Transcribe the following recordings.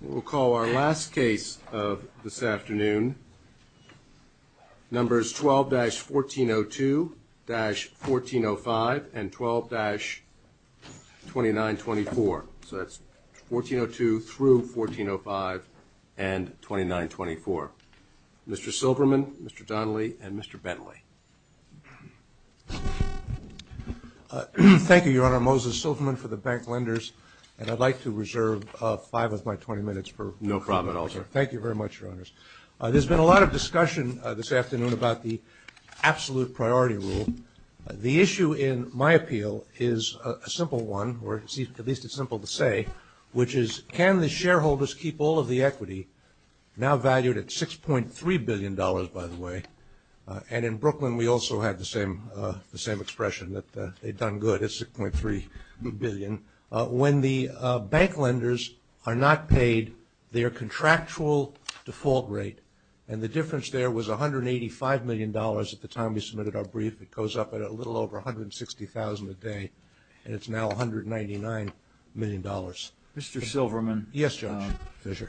We'll call our last case of this afternoon. Numbers 12-1402-1405 and 12-2924. So that's 1402 through 1405 and 2924. Mr. Silverman, Mr. Donnelly, and Mr. Bentley. Thank you, Your Honor. I'm Moses Silverman for the Bank Lenders, and I'd like to reserve five of my 20 minutes. No problem at all, sir. Thank you very much, Your Honors. There's been a lot of discussion this afternoon about the absolute priority rule. The issue in my appeal is a simple one, or at least it's simple to say, which is can the shareholders keep all of the equity, now valued at $6.3 billion, by the way, and in Brooklyn we also had the same expression, that they'd done good at $6.3 billion. When the bank lenders are not paid their contractual default rate, and the difference there was $185 million at the time we submitted our brief. It goes up at a little over $160,000 a day, and it's now $199 million. Mr. Silverman. Yes, Judge. Yes, sir.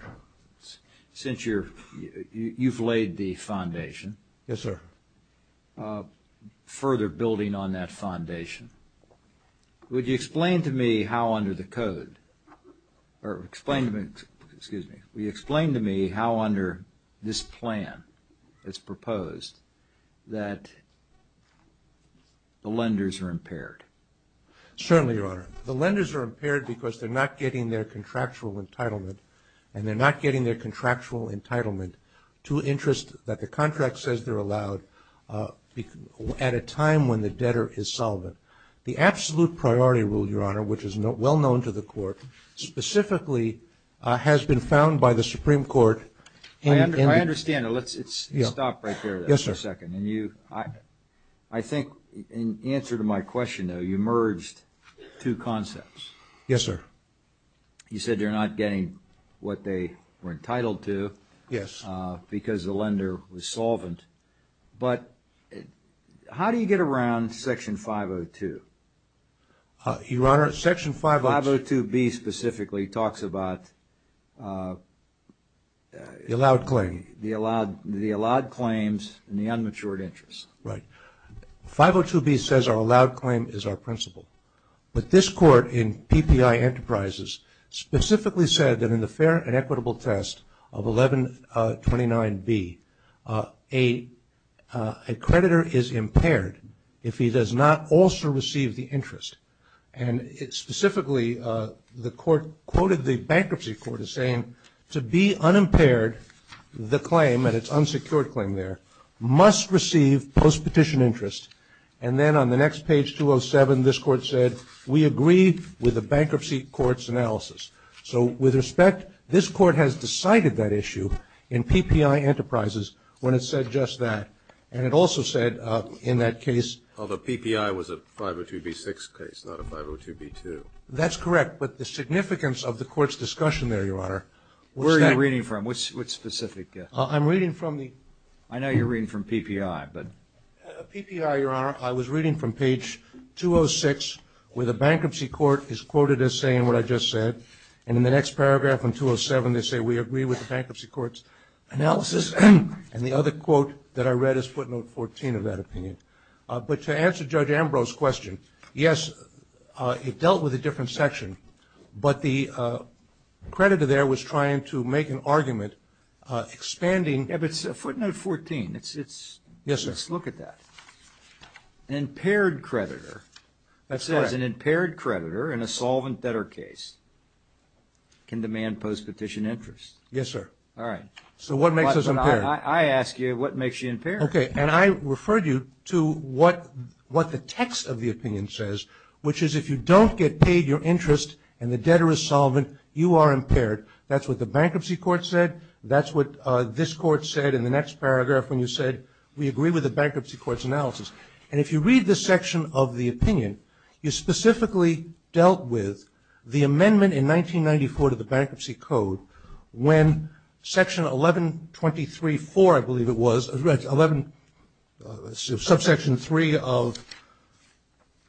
Since you've laid the foundation. Yes, sir. Further building on that foundation, would you explain to me how under the code, or explain to me, excuse me, would you explain to me how under this plan that's proposed that the lenders are impaired? Certainly, Your Honor. The lenders are impaired because they're not getting their contractual entitlement, and they're not getting their contractual entitlement to interest that the contract says they're allowed at a time when the debtor is solvent. The absolute priority rule, Your Honor, which is well known to the court, specifically has been found by the Supreme Court. I understand. Yes, sir. I think in answer to my question, though, you merged two concepts. Yes, sir. You said they're not getting what they were entitled to. Yes. Because the lender was solvent. But how do you get around Section 502? Your Honor, Section 502. 502B specifically talks about the allowed claims and the unmatured interest. Right. 502B says our allowed claim is our principle. But this court in PPI Enterprises specifically said that in the fair and equitable test of 1129B, a creditor is impaired if he does not also receive the interest. And specifically, the court quoted the bankruptcy court as saying, to be unimpaired, the claim, and it's unsecured claim there, must receive post-petition interest. And then on the next page, 207, this court said, we agree with the bankruptcy court's analysis. So with respect, this court has decided that issue in PPI Enterprises when it said just that. And it also said in that case. Although PPI was a 502B6 case, not a 502B2. That's correct. But the significance of the court's discussion there, Your Honor. Where are you reading from? Which specific? I'm reading from the. I know you're reading from PPI, but. PPI, Your Honor, I was reading from page 206, where the bankruptcy court is quoted as saying what I just said. And in the next paragraph on 207, they say, we agree with the bankruptcy court's analysis. And the other quote that I read is footnote 14 of that opinion. But to answer Judge Ambrose's question, yes, it dealt with a different section, but the creditor there was trying to make an argument expanding. Yeah, but footnote 14, let's look at that. An impaired creditor. That's correct. It says an impaired creditor in a solvent debtor case can demand post-petition interest. Yes, sir. All right. So what makes us impaired? I ask you, what makes you impaired? Okay. And I referred you to what the text of the opinion says, which is if you don't get paid your interest and the debtor is solvent, you are impaired. That's what the bankruptcy court said. That's what this court said in the next paragraph when you said we agree with the bankruptcy court's analysis. And if you read this section of the opinion, you specifically dealt with the amendment in 1994 to the Bankruptcy Code when Section 1123-4, I believe it was, subsection 3 of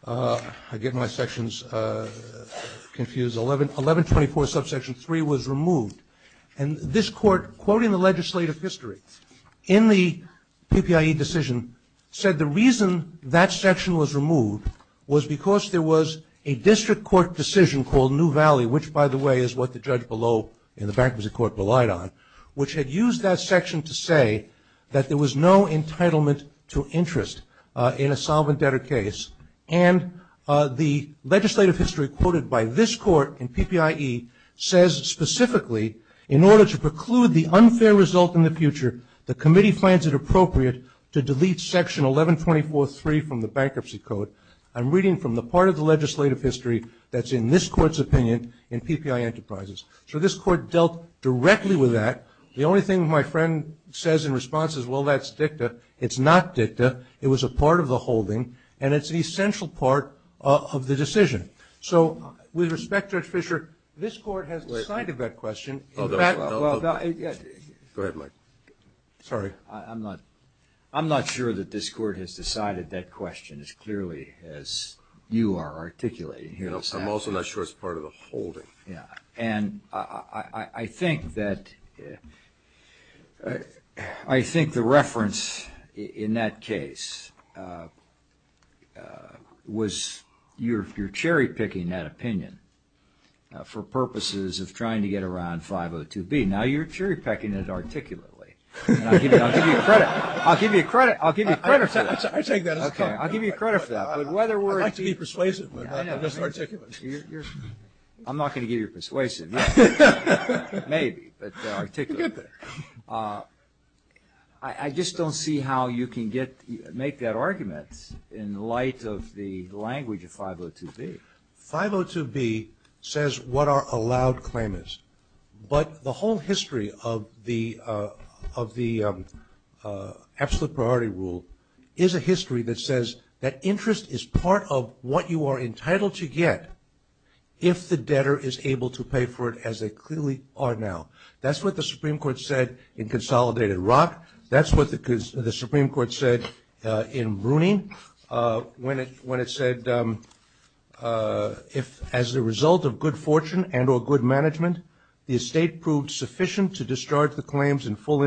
1124 subsection 3 was removed. And this court, quoting the legislative history in the PPIE decision, said the reason that section was removed was because there was a district court decision called New Valley, which, by the way, is what the judge below in the bankruptcy court relied on, which had used that section to say that there was no entitlement to interest in a solvent debtor case. And the legislative history quoted by this court in PPIE says specifically, in order to preclude the unfair result in the future, the committee finds it appropriate to delete section 1124-3 from the Bankruptcy Code. I'm reading from the part of the legislative history that's in this court's opinion in PPIE Enterprises. So this court dealt directly with that. The only thing my friend says in response is, well, that's dicta. It's not dicta. It was a part of the holding, and it's an essential part of the decision. So with respect, Judge Fischer, this court has decided that question. Go ahead, Mike. Sorry. I'm not sure that this court has decided that question as clearly as you are articulating here. I'm also not sure it's part of the holding. And I think that the reference in that case was you're cherry-picking that opinion for purposes of trying to get around 502B. Now you're cherry-picking it articulately. I'll give you credit. I'll give you credit. I'll give you credit for that. I take that as a compliment. I'll give you credit for that. I'd like to be persuasive, but just articulate. I'm not going to give you persuasion. Maybe, but articulate. I just don't see how you can make that argument in light of the language of 502B. 502B says what are allowed claimants. But the whole history of the absolute priority rule is a history that says that interest is part of what you are entitled to get. If the debtor is able to pay for it as they clearly are now. That's what the Supreme Court said in Consolidated Rock. That's what the Supreme Court said in Bruning when it said as a result of good fortune and or good management, the estate proved sufficient to discharge the claims in full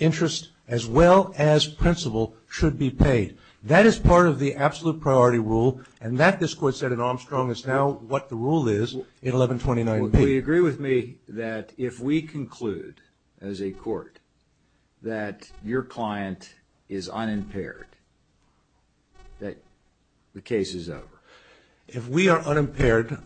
interest as well as principal should be paid. That is part of the absolute priority rule. And that, this court said in Armstrong, is now what the rule is in 1129B. Do you agree with me that if we conclude as a court that your client is unimpaired, that the case is over? If we are unimpaired,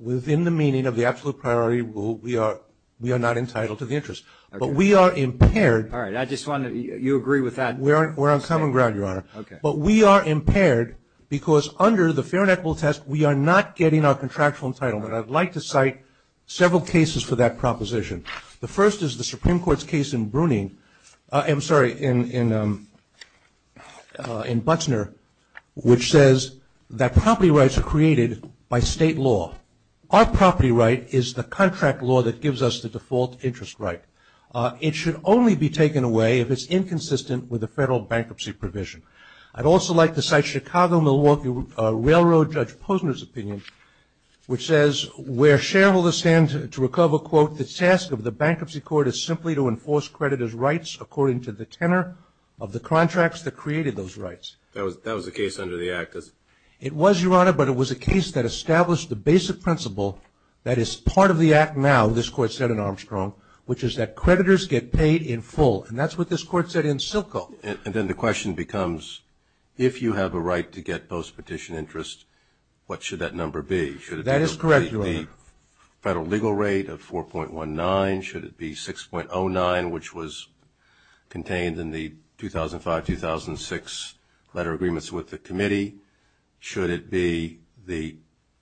within the meaning of the absolute priority rule, we are not entitled to the interest. But we are impaired. All right. I just want to, you agree with that? We're on common ground, Your Honor. Okay. But we are impaired because under the fair and equitable test, we are not getting our contractual entitlement. I'd like to cite several cases for that proposition. The first is the Supreme Court's case in Bruning, I'm sorry, in Butzner, which says that property rights are created by state law. Our property right is the contract law that gives us the default interest right. It should only be taken away if it's inconsistent with the federal bankruptcy provision. I'd also like to cite Chicago-Milwaukee Railroad Judge Posner's opinion, which says where shareholders stand to recover, quote, the task of the bankruptcy court is simply to enforce creditors' rights according to the tenor of the contracts that created those rights. That was the case under the Act, isn't it? It was, Your Honor, but it was a case that established the basic principle that is part of the Act now, as this Court said in Armstrong, which is that creditors get paid in full. And that's what this Court said in Silco. And then the question becomes, if you have a right to get post-petition interest, what should that number be? That is correct, Your Honor. Should it be the federal legal rate of 4.19? Should it be 6.09, which was contained in the 2005-2006 letter agreements with the committee? Should it be the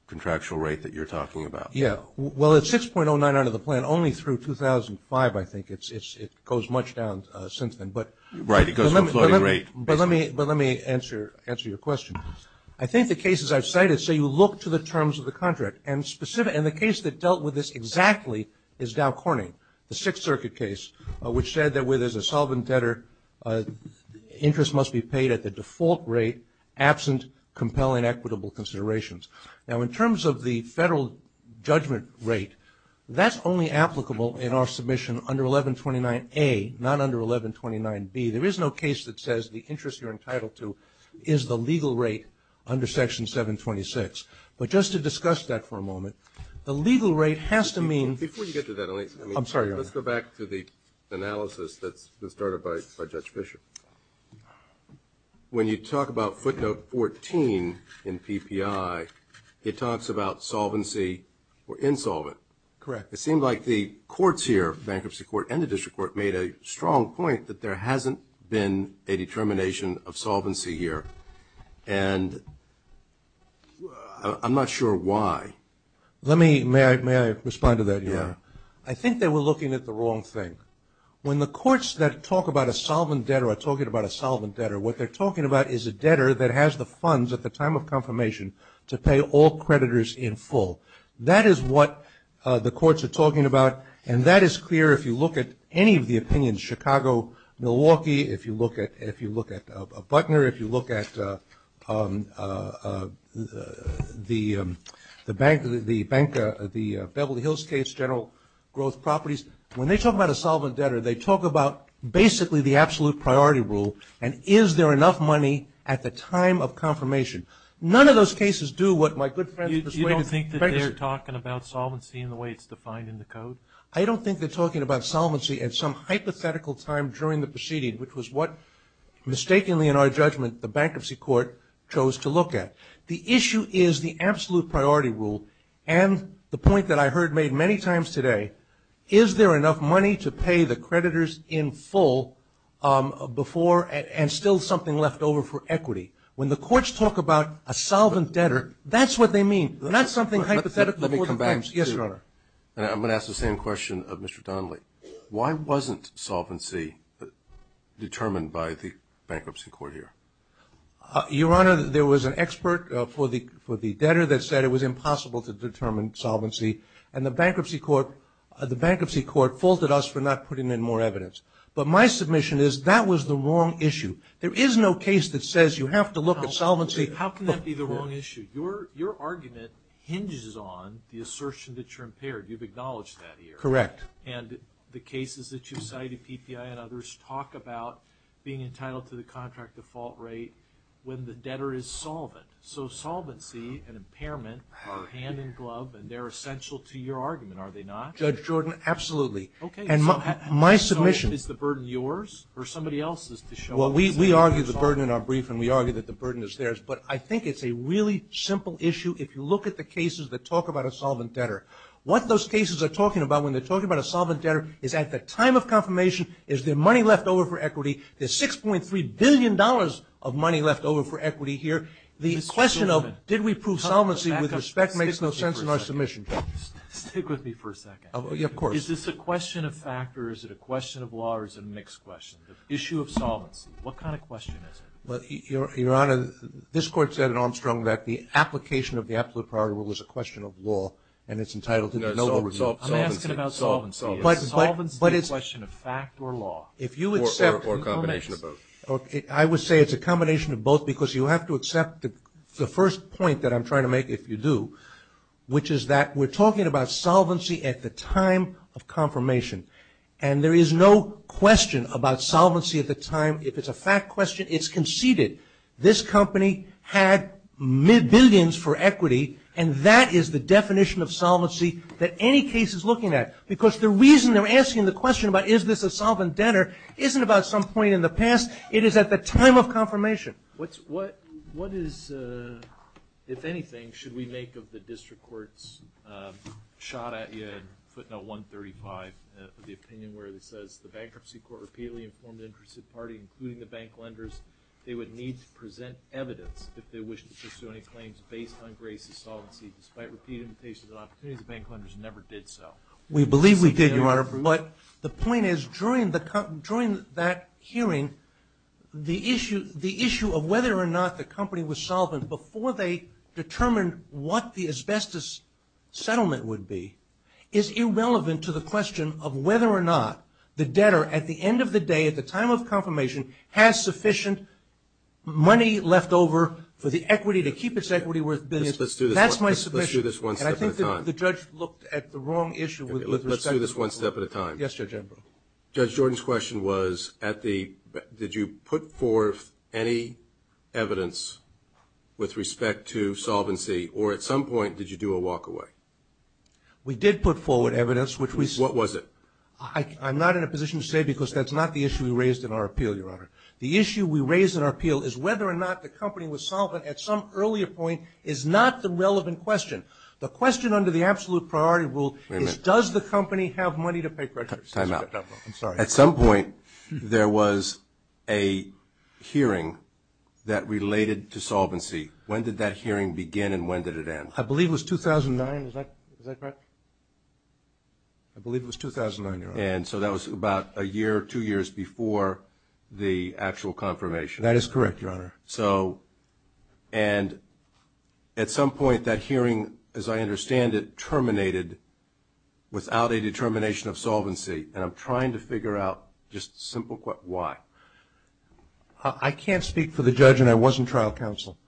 contractual rate that you're talking about? Yeah, well, it's 6.09 under the plan, only through 2005, I think. It goes much down since then. Right, it goes from floating rate. But let me answer your question. I think the cases I've cited say you look to the terms of the contract, and the case that dealt with this exactly is Dow Corning, the Sixth Circuit case, which said that where there's a solvent debtor, interest must be paid at the default rate, absent compelling equitable considerations. Now, in terms of the federal judgment rate, that's only applicable in our submission under 1129A, not under 1129B. There is no case that says the interest you're entitled to is the legal rate under Section 726. But just to discuss that for a moment, the legal rate has to mean ---- Before you get to that, let's go back to the analysis that was started by Judge Fischer. When you talk about footnote 14 in PPI, it talks about solvency or insolvent. Correct. It seemed like the courts here, bankruptcy court and the district court, made a strong point that there hasn't been a determination of solvency here. And I'm not sure why. May I respond to that? Yeah. I think they were looking at the wrong thing. When the courts that talk about a solvent debtor are talking about a solvent debtor, what they're talking about is a debtor that has the funds at the time of confirmation to pay all creditors in full. That is what the courts are talking about, and that is clear if you look at any of the opinions. Chicago, Milwaukee, if you look at Butner, if you look at the Beverly Hills case, general growth properties, when they talk about a solvent debtor, they talk about basically the absolute priority rule, and is there enough money at the time of confirmation. None of those cases do what my good friends persuaded. You don't think that they're talking about solvency in the way it's defined in the code? I don't think they're talking about solvency at some hypothetical time during the proceeding, which was what, mistakenly in our judgment, the bankruptcy court chose to look at. The issue is the absolute priority rule. And the point that I heard made many times today, is there enough money to pay the creditors in full before and still something left over for equity. When the courts talk about a solvent debtor, that's what they mean, not something hypothetical. Let me come back. Yes, Your Honor. I'm going to ask the same question of Mr. Donnelly. Why wasn't solvency determined by the bankruptcy court here? Your Honor, there was an expert for the debtor that said it was impossible to determine solvency, and the bankruptcy court faulted us for not putting in more evidence. But my submission is that was the wrong issue. There is no case that says you have to look at solvency. How can that be the wrong issue? Your argument hinges on the assertion that you're impaired. You've acknowledged that here. Correct. And the cases that you've cited, PPI and others, talk about being entitled to the contract default rate when the debtor is solvent. So, solvency and impairment are hand in glove, and they're essential to your argument, are they not? Judge Jordan, absolutely. Okay. And so, is the burden yours or somebody else's to show up and say, Well, we argue the burden in our brief, and we argue that the burden is theirs. But I think it's a really simple issue. If you look at the cases that talk about a solvent debtor, what those cases are talking about when they're talking about a solvent debtor is at the time of confirmation, is there money left over for equity? There's $6.3 billion of money left over for equity here. The question of did we prove solvency with respect makes no sense in our submission. Stick with me for a second. Of course. Is this a question of fact, or is it a question of law, or is it a mixed question? The issue of solvency, what kind of question is it? Your Honor, this Court said in Armstrong that the application of the absolute priority rule is a question of law, and it's entitled to the noble review. I'm asking about solvency. Solvency is a question of fact or law. Or a combination of both. I would say it's a combination of both because you have to accept the first point that I'm trying to make, if you do, which is that we're talking about solvency at the time of confirmation. And there is no question about solvency at the time. If it's a fact question, it's conceded. This company had billions for equity, and that is the definition of solvency that any case is looking at. Because the reason they're asking the question about is this a solvent debtor isn't about some point in the past. It is at the time of confirmation. What is, if anything, should we make of the district court's shot at you in footnote 135 of the opinion where it says, the bankruptcy court repeatedly informed the interested party, including the bank lenders, they would need to present evidence if they wish to pursue any claims based on grace of solvency, despite repeated invitations and opportunities. The bank lenders never did so. We believe we did, Your Honor. But the point is, during that hearing, the issue of whether or not the company was solvent before they determined what the asbestos settlement would be is irrelevant to the question of whether or not the debtor, at the end of the day, at the time of confirmation, has sufficient money left over for the equity, to keep its equity worth billions. That's my submission. Let's do this one step at a time. And I think the judge looked at the wrong issue with respect to that. Let's do this one step at a time. Yes, Judge Embro. Judge Jordan's question was, did you put forth any evidence with respect to solvency, or at some point did you do a walk away? We did put forward evidence. What was it? I'm not in a position to say because that's not the issue we raised in our appeal, Your Honor. The issue we raised in our appeal is whether or not the company was solvent at some earlier point is not the relevant question. The question under the absolute priority rule is, does the company have money to pay creditors? Time out. I'm sorry. At some point, there was a hearing that related to solvency. When did that hearing begin and when did it end? I believe it was 2009. Is that correct? I believe it was 2009, Your Honor. And so that was about a year, two years before the actual confirmation. That is correct, Your Honor. And at some point, that hearing, as I understand it, terminated without a determination of solvency. And I'm trying to figure out just a simple question, why? I can't speak for the judge and I wasn't trial counsel.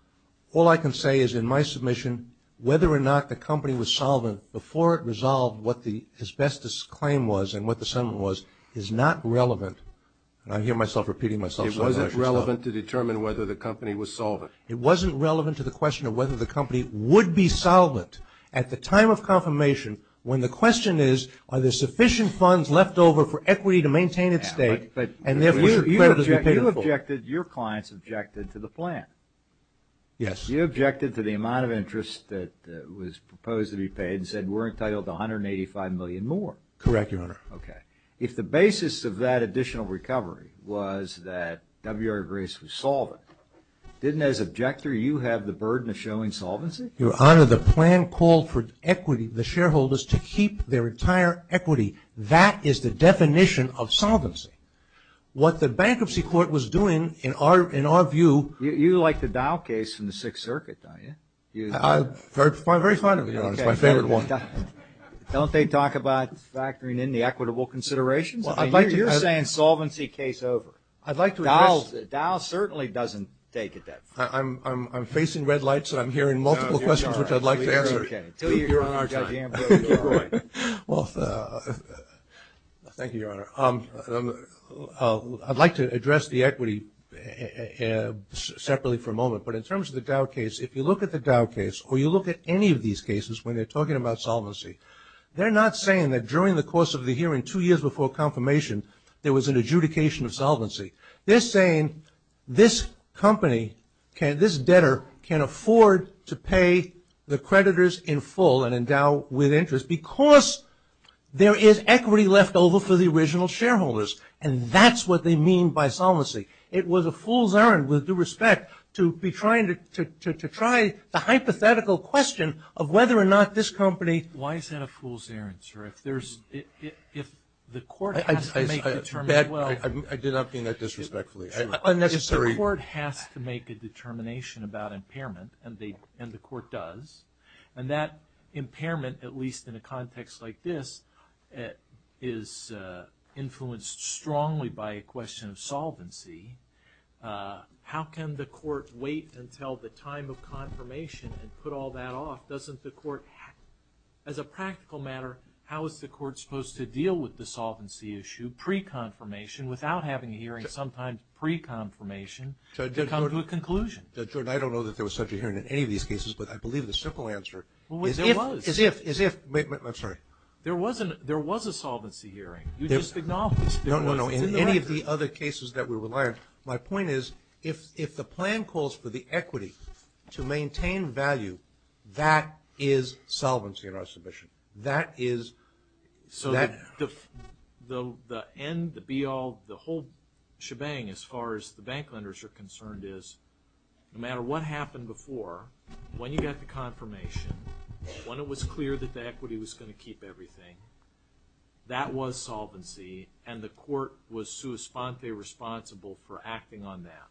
All I can say is in my submission, whether or not the company was solvent before it resolved what the asbestos claim was and what the settlement was is not relevant. And I hear myself repeating myself. It wasn't relevant to determine whether the company was solvent. It wasn't relevant to the question of whether the company would be solvent at the time of confirmation when the question is, are there sufficient funds left over for equity to maintain its state? You objected, your clients objected to the plan. Yes. You objected to the amount of interest that was proposed to be paid and said we're entitled to $185 million more. Correct, Your Honor. Okay. If the basis of that additional recovery was that W.R. Grace was solvent, didn't as objector you have the burden of showing solvency? Your Honor, the plan called for equity, the shareholders to keep their entire equity. That is the definition of solvency. What the Bankruptcy Court was doing in our view. You like the Dow case from the Sixth Circuit, don't you? I'm very fond of it, Your Honor. It's my favorite one. Don't they talk about factoring in the equitable considerations? You're saying solvency case over. I'd like to address. Dow certainly doesn't take it that far. I'm facing red lights and I'm hearing multiple questions which I'd like to answer. You're on our time. Well, thank you, Your Honor. I'd like to address the equity separately for a moment. But in terms of the Dow case, if you look at the Dow case, or you look at any of these cases when they're talking about solvency, they're not saying that during the course of the hearing two years before confirmation there was an adjudication of solvency. They're saying this company, this debtor, can afford to pay the creditors in full and endow with interest because there is equity left over for the original shareholders. And that's what they mean by solvency. It was a fool's errand, with due respect, to be trying to try the hypothetical question of whether or not this company. Why is that a fool's errand, sir? If the court has to make a determination. I did not mean that disrespectfully. Unnecessary. If the court has to make a determination about impairment, and the court does, and that impairment, at least in a context like this, is influenced strongly by a question of solvency, how can the court wait until the time of confirmation and put all that off? Doesn't the court, as a practical matter, how is the court supposed to deal with the solvency issue pre-confirmation, without having a hearing sometimes pre-confirmation to come to a conclusion? Judge Jordan, I don't know that there was such a hearing in any of these cases, but I believe the simple answer is if. Wait, there was. I'm sorry. There was a solvency hearing. You just acknowledged this. No, no, no. In any of the other cases that we rely on, my point is if the plan calls for the equity to maintain value, that is solvency in our submission. So the end, the be-all, the whole shebang, as far as the bank lenders are concerned, is no matter what happened before, when you got the confirmation, when it was clear that the equity was going to keep everything, that was solvency, and the court was sua sponte responsible for acting on that.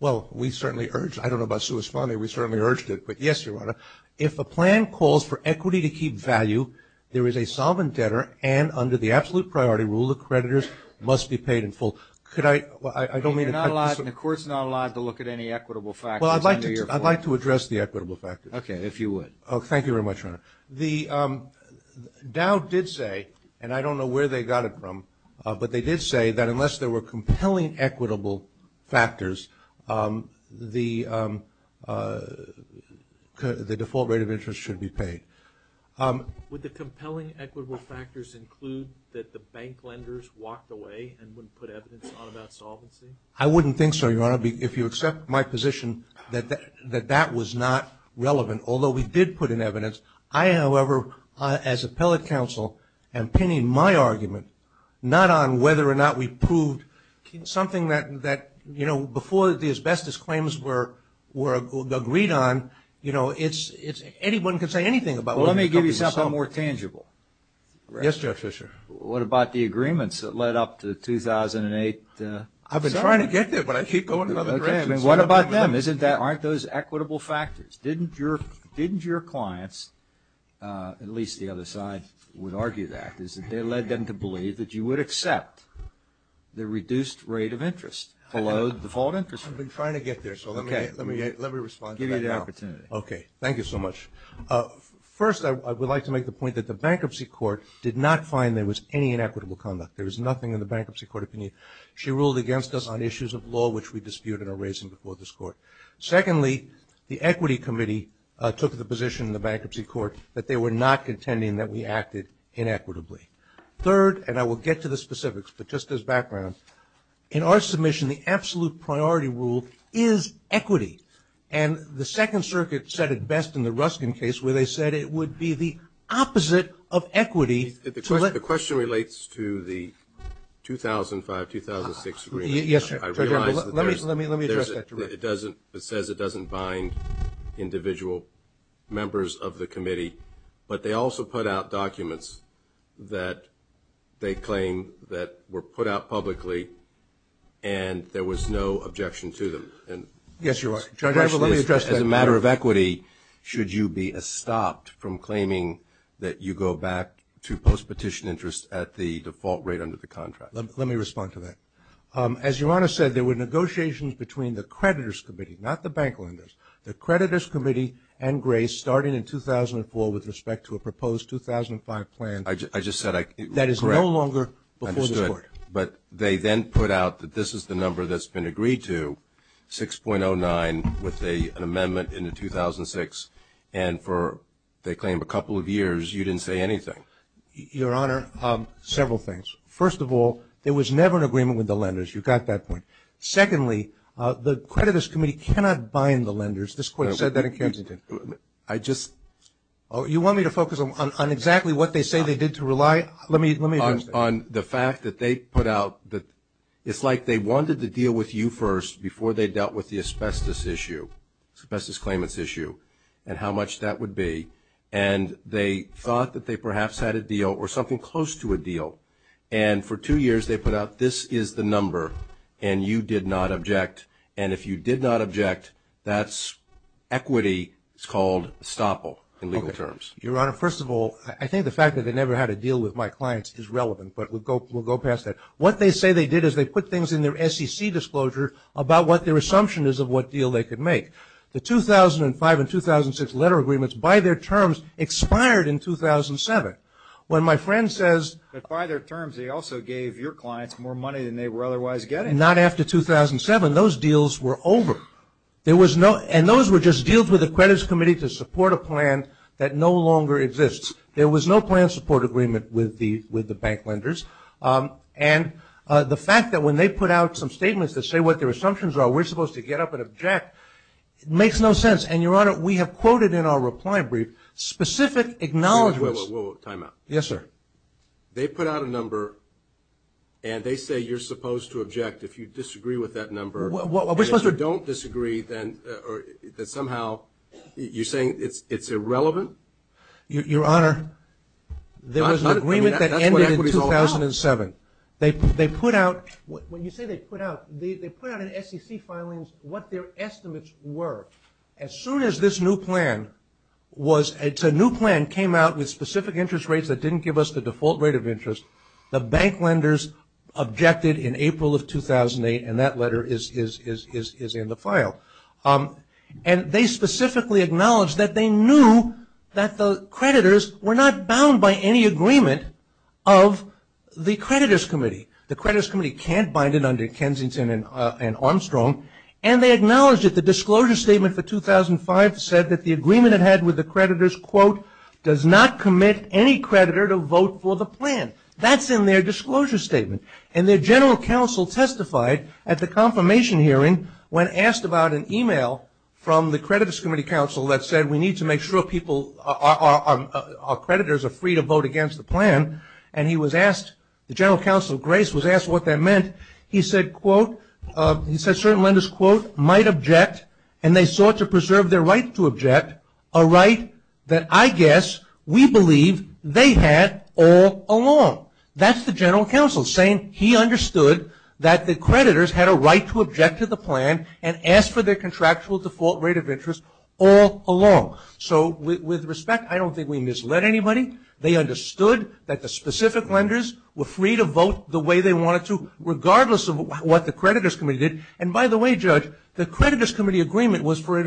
Well, we certainly urged, I don't know about sua sponte, we certainly urged it, but yes, Your Honor. If a plan calls for equity to keep value, there is a solvent debtor, and under the absolute priority rule, the creditors must be paid in full. Could I, I don't mean to cut this. I mean, you're not allowed, and the court's not allowed to look at any equitable factors under your plan. Well, I'd like to address the equitable factors. Okay, if you would. Oh, thank you very much, Your Honor. The DAO did say, and I don't know where they got it from, but they did say that unless there were compelling equitable factors, the default rate of interest should be paid. Would the compelling equitable factors include that the bank lenders walked away and wouldn't put evidence on about solvency? I wouldn't think so, Your Honor, if you accept my position that that was not relevant, although we did put in evidence. I, however, as appellate counsel, am pinning my argument not on whether or not we proved something that, you know, before the asbestos claims were agreed on, you know, it's anyone can say anything about it. Well, let me give you something more tangible. Yes, Judge Fischer. What about the agreements that led up to 2008? I've been trying to get there, but I keep going another direction. What about them? Aren't those equitable factors? Didn't your clients, at least the other side would argue that, that they led them to believe that you would accept the reduced rate of interest below the default interest rate? I've been trying to get there, so let me respond to that now. Okay. Thank you so much. First, I would like to make the point that the Bankruptcy Court did not find there was any inequitable conduct. There was nothing in the Bankruptcy Court opinion. She ruled against us on issues of law, which we disputed and are raising before this Court. Secondly, the Equity Committee took the position in the Bankruptcy Court that they were not contending that we acted inequitably. Third, and I will get to the specifics, but just as background, in our submission the absolute priority rule is equity, and the Second Circuit said it best in the Ruskin case where they said it would be the opposite of equity. The question relates to the 2005-2006 agreement. Yes. Let me address that to Rick. It says it doesn't bind individual members of the committee, but they also put out documents that they claim that were put out publicly and there was no objection to them. Yes, you are. Judge, as a matter of equity, should you be stopped from claiming that you go back to post-petition interest at the default rate under the contract? Let me respond to that. As Your Honor said, there were negotiations between the Creditors Committee, not the bank lenders, the Creditors Committee and Grace starting in 2004 with respect to a proposed 2005 plan that is no longer before this Court. I just said, correct, I understood. But they then put out that this is the number that's been agreed to, 6.09, with an amendment in 2006, and for they claim a couple of years you didn't say anything. Your Honor, several things. First of all, there was never an agreement with the lenders. You got that point. Secondly, the Creditors Committee cannot bind the lenders. This Court said that in Kensington. You want me to focus on exactly what they say they did to rely? Let me address that. On the fact that they put out that it's like they wanted to deal with you first before they dealt with the asbestos issue, asbestos claimants issue, and how much that would be, and they thought that they perhaps had a deal or something close to a deal, and for two years they put out this is the number and you did not object, and if you did not object, that's equity. It's called estoppel in legal terms. Your Honor, first of all, I think the fact that they never had a deal with my clients is relevant, but we'll go past that. What they say they did is they put things in their SEC disclosure about what their assumption is of what deal they could make. The 2005 and 2006 letter agreements by their terms expired in 2007. When my friend says by their terms they also gave your clients more money than they were otherwise getting, not after 2007, those deals were over. And those were just deals with the Creditors Committee to support a plan that no longer exists. There was no plan support agreement with the bank lenders, and the fact that when they put out some statements that say what their It makes no sense. And, Your Honor, we have quoted in our reply brief specific acknowledgments. Whoa, whoa, whoa. Time out. Yes, sir. They put out a number and they say you're supposed to object if you disagree with that number. And if you don't disagree, then somehow you're saying it's irrelevant? Your Honor, there was an agreement that ended in 2007. They put out, when you say they put out, they put out in SEC filings what their estimates were. As soon as this new plan was, a new plan came out with specific interest rates that didn't give us the default rate of interest, the bank lenders objected in April of 2008, and that letter is in the file. And they specifically acknowledged that they knew that the creditors were not bound by any agreement of the Creditors Committee. The Creditors Committee can't bind it under Kensington and Armstrong. And they acknowledged that the disclosure statement for 2005 said that the agreement it had with the creditors, quote, does not commit any creditor to vote for the plan. That's in their disclosure statement. And their general counsel testified at the confirmation hearing when asked about an e-mail from the Creditors Committee counsel that said we need to make sure people, our creditors are free to vote against the plan. And he was asked, the general counsel, Grace, was asked what that meant. He said, quote, he said certain lenders, quote, might object and they sought to preserve their right to object, a right that I guess we believe they had all along. That's the general counsel saying he understood that the creditors had a right to object to the plan and ask for their contractual default rate of interest all along. So with respect, I don't think we misled anybody. They understood that the specific lenders were free to vote the way they wanted to, regardless of what the Creditors Committee did. And by the way, Judge, the Creditors Committee agreement was for,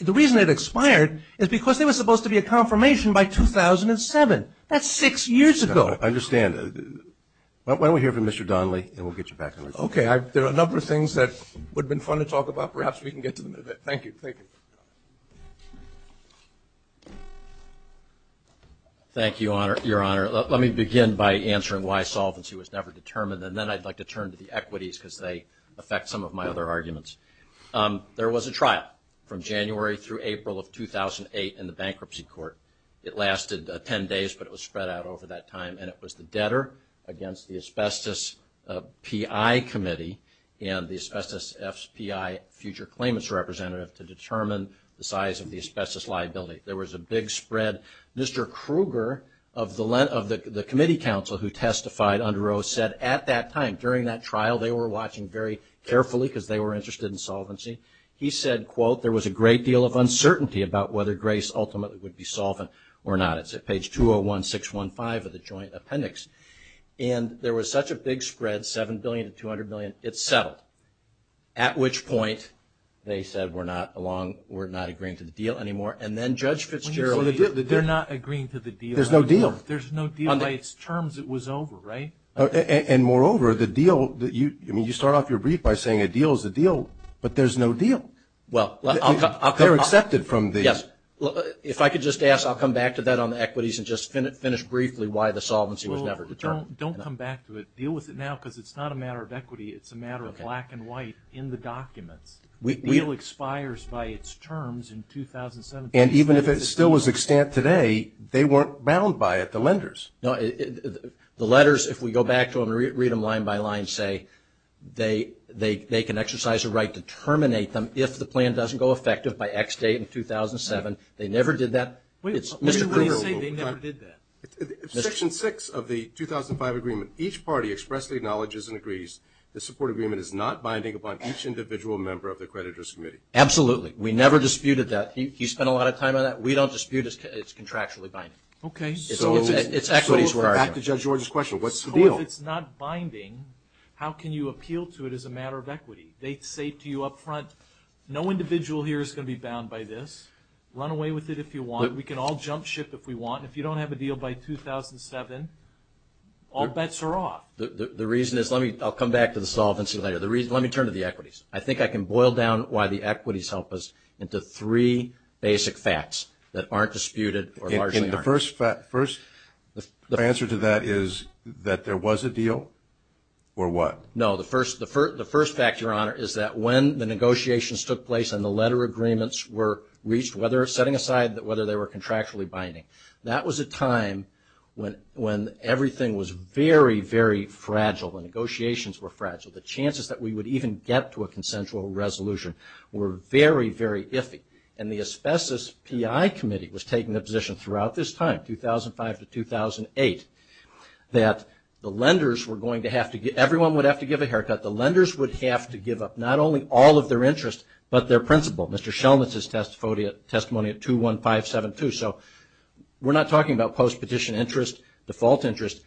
the reason it expired is because there was supposed to be a confirmation by 2007. That's six years ago. I understand. Why don't we hear from Mr. Donnelly and we'll get you back. Okay. There are a number of things that would have been fun to talk about. Perhaps we can get to them in a bit. Thank you. Thank you. Thank you, Your Honor. Let me begin by answering why solvency was never determined, and then I'd like to turn to the equities because they affect some of my other arguments. There was a trial from January through April of 2008 in the bankruptcy court. It lasted 10 days, but it was spread out over that time, and it was the debtor against the Asbestos PI Committee and the Asbestos FPI future claimants representative to determine the size of the asbestos liability. There was a big spread. Mr. Kruger of the committee council who testified under O said at that time, during that trial, they were watching very carefully because they were interested in solvency. He said, quote, there was a great deal of uncertainty about whether Grace ultimately would be solvent or not. It's at page 201, 615 of the joint appendix. And there was such a big spread, $7 billion to $200 billion, it settled. At which point they said, we're not agreeing to the deal anymore. And then Judge Fitzgerald. They're not agreeing to the deal. There's no deal. There's no deal. By its terms, it was over, right? And moreover, the deal that you, I mean you start off your brief by saying a deal is a deal, but there's no deal. They're accepted from the. Yes. If I could just ask, I'll come back to that on the equities and just finish briefly why the solvency was never determined. Don't come back to it. Deal with it now because it's not a matter of equity. It's a matter of black and white in the documents. The deal expires by its terms in 2017. And even if it still was extant today, they weren't bound by it, the lenders. No. The letters, if we go back to them and read them line by line, say, they can exercise a right to terminate them if the plan doesn't go effective by X date in 2007. They never did that. Wait. Let me say they never did that. Section 6 of the 2005 agreement, each party expressly acknowledges and agrees the support agreement is not binding upon each individual member of the accreditors committee. Absolutely. We never disputed that. He spent a lot of time on that. We don't dispute it's contractually binding. Okay. It's equities. Back to Judge George's question. What's the deal? So if it's not binding, how can you appeal to it as a matter of equity? They say to you up front, no individual here is going to be bound by this. Run away with it if you want. We can all jump ship if we want. If you don't have a deal by 2007, all bets are off. The reason is, I'll come back to the solvency later. Let me turn to the equities. I think I can boil down why the equities help us into three basic facts that aren't disputed or largely aren't. The first answer to that is that there was a deal or what? No, the first fact, Your Honor, is that when the negotiations took place and the letter agreements were reached, whether setting aside whether they were contractually binding, that was a time when everything was very, very fragile. The negotiations were fragile. The chances that we would even get to a consensual resolution were very, very iffy. And the Asbestos PI Committee was taking the position throughout this time, 2005 to 2008, that the lenders were going to have to get, everyone would have to give a haircut. The lenders would have to give up not only all of their interest but their principle. Mr. Shelnitz's testimony at 21572. So we're not talking about post-petition interest, default interest.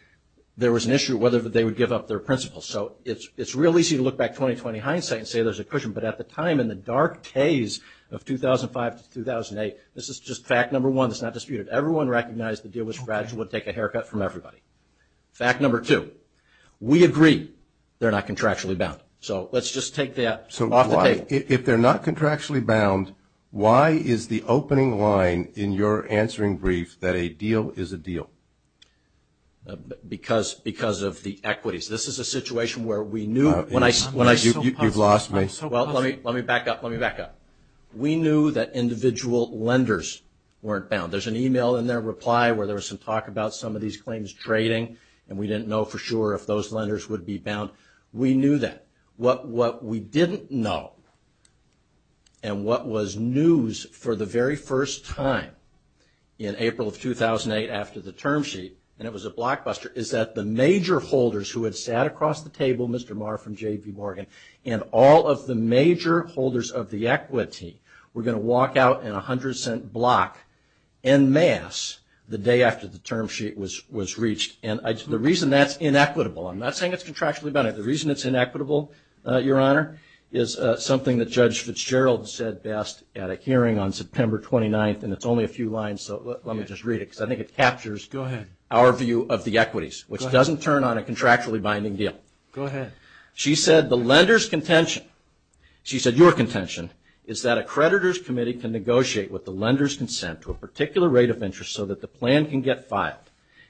There was an issue whether they would give up their principle. So it's real easy to look back 2020 hindsight and say there's a cushion. But at the time in the dark days of 2005 to 2008, this is just fact number one. It's not disputed. Everyone recognized the deal was fragile and would take a haircut from everybody. Fact number two, we agree they're not contractually bound. So let's just take that off the table. If they're not contractually bound, why is the opening line in your answering brief that a deal is a deal? Because of the equities. This is a situation where we knew. You've lost me. Well, let me back up. Let me back up. We knew that individual lenders weren't bound. There's an email in their reply where there was some talk about some of these claims trading and we didn't know for sure if those lenders would be bound. We knew that. What we didn't know and what was news for the very first time in April of 2008 after the term sheet, and it was a blockbuster, is that the major holders who had sat across the table, Mr. Maher from J.P. Morgan, and all of the major holders of the equity were going to walk out in a 100-cent block en masse the day after the term sheet was reached. And the reason that's inequitable, I'm not saying it's contractually bound. The reason it's inequitable, Your Honor, is something that Judge Fitzgerald said best at a hearing on September 29th, and it's only a few lines, so let me just read it, because I think it captures our view of the equities, which doesn't turn on a contractually binding deal. Go ahead. She said the lender's contention, she said your contention, is that a creditor's committee can negotiate with the lender's consent to a particular rate of interest so that the plan can get filed.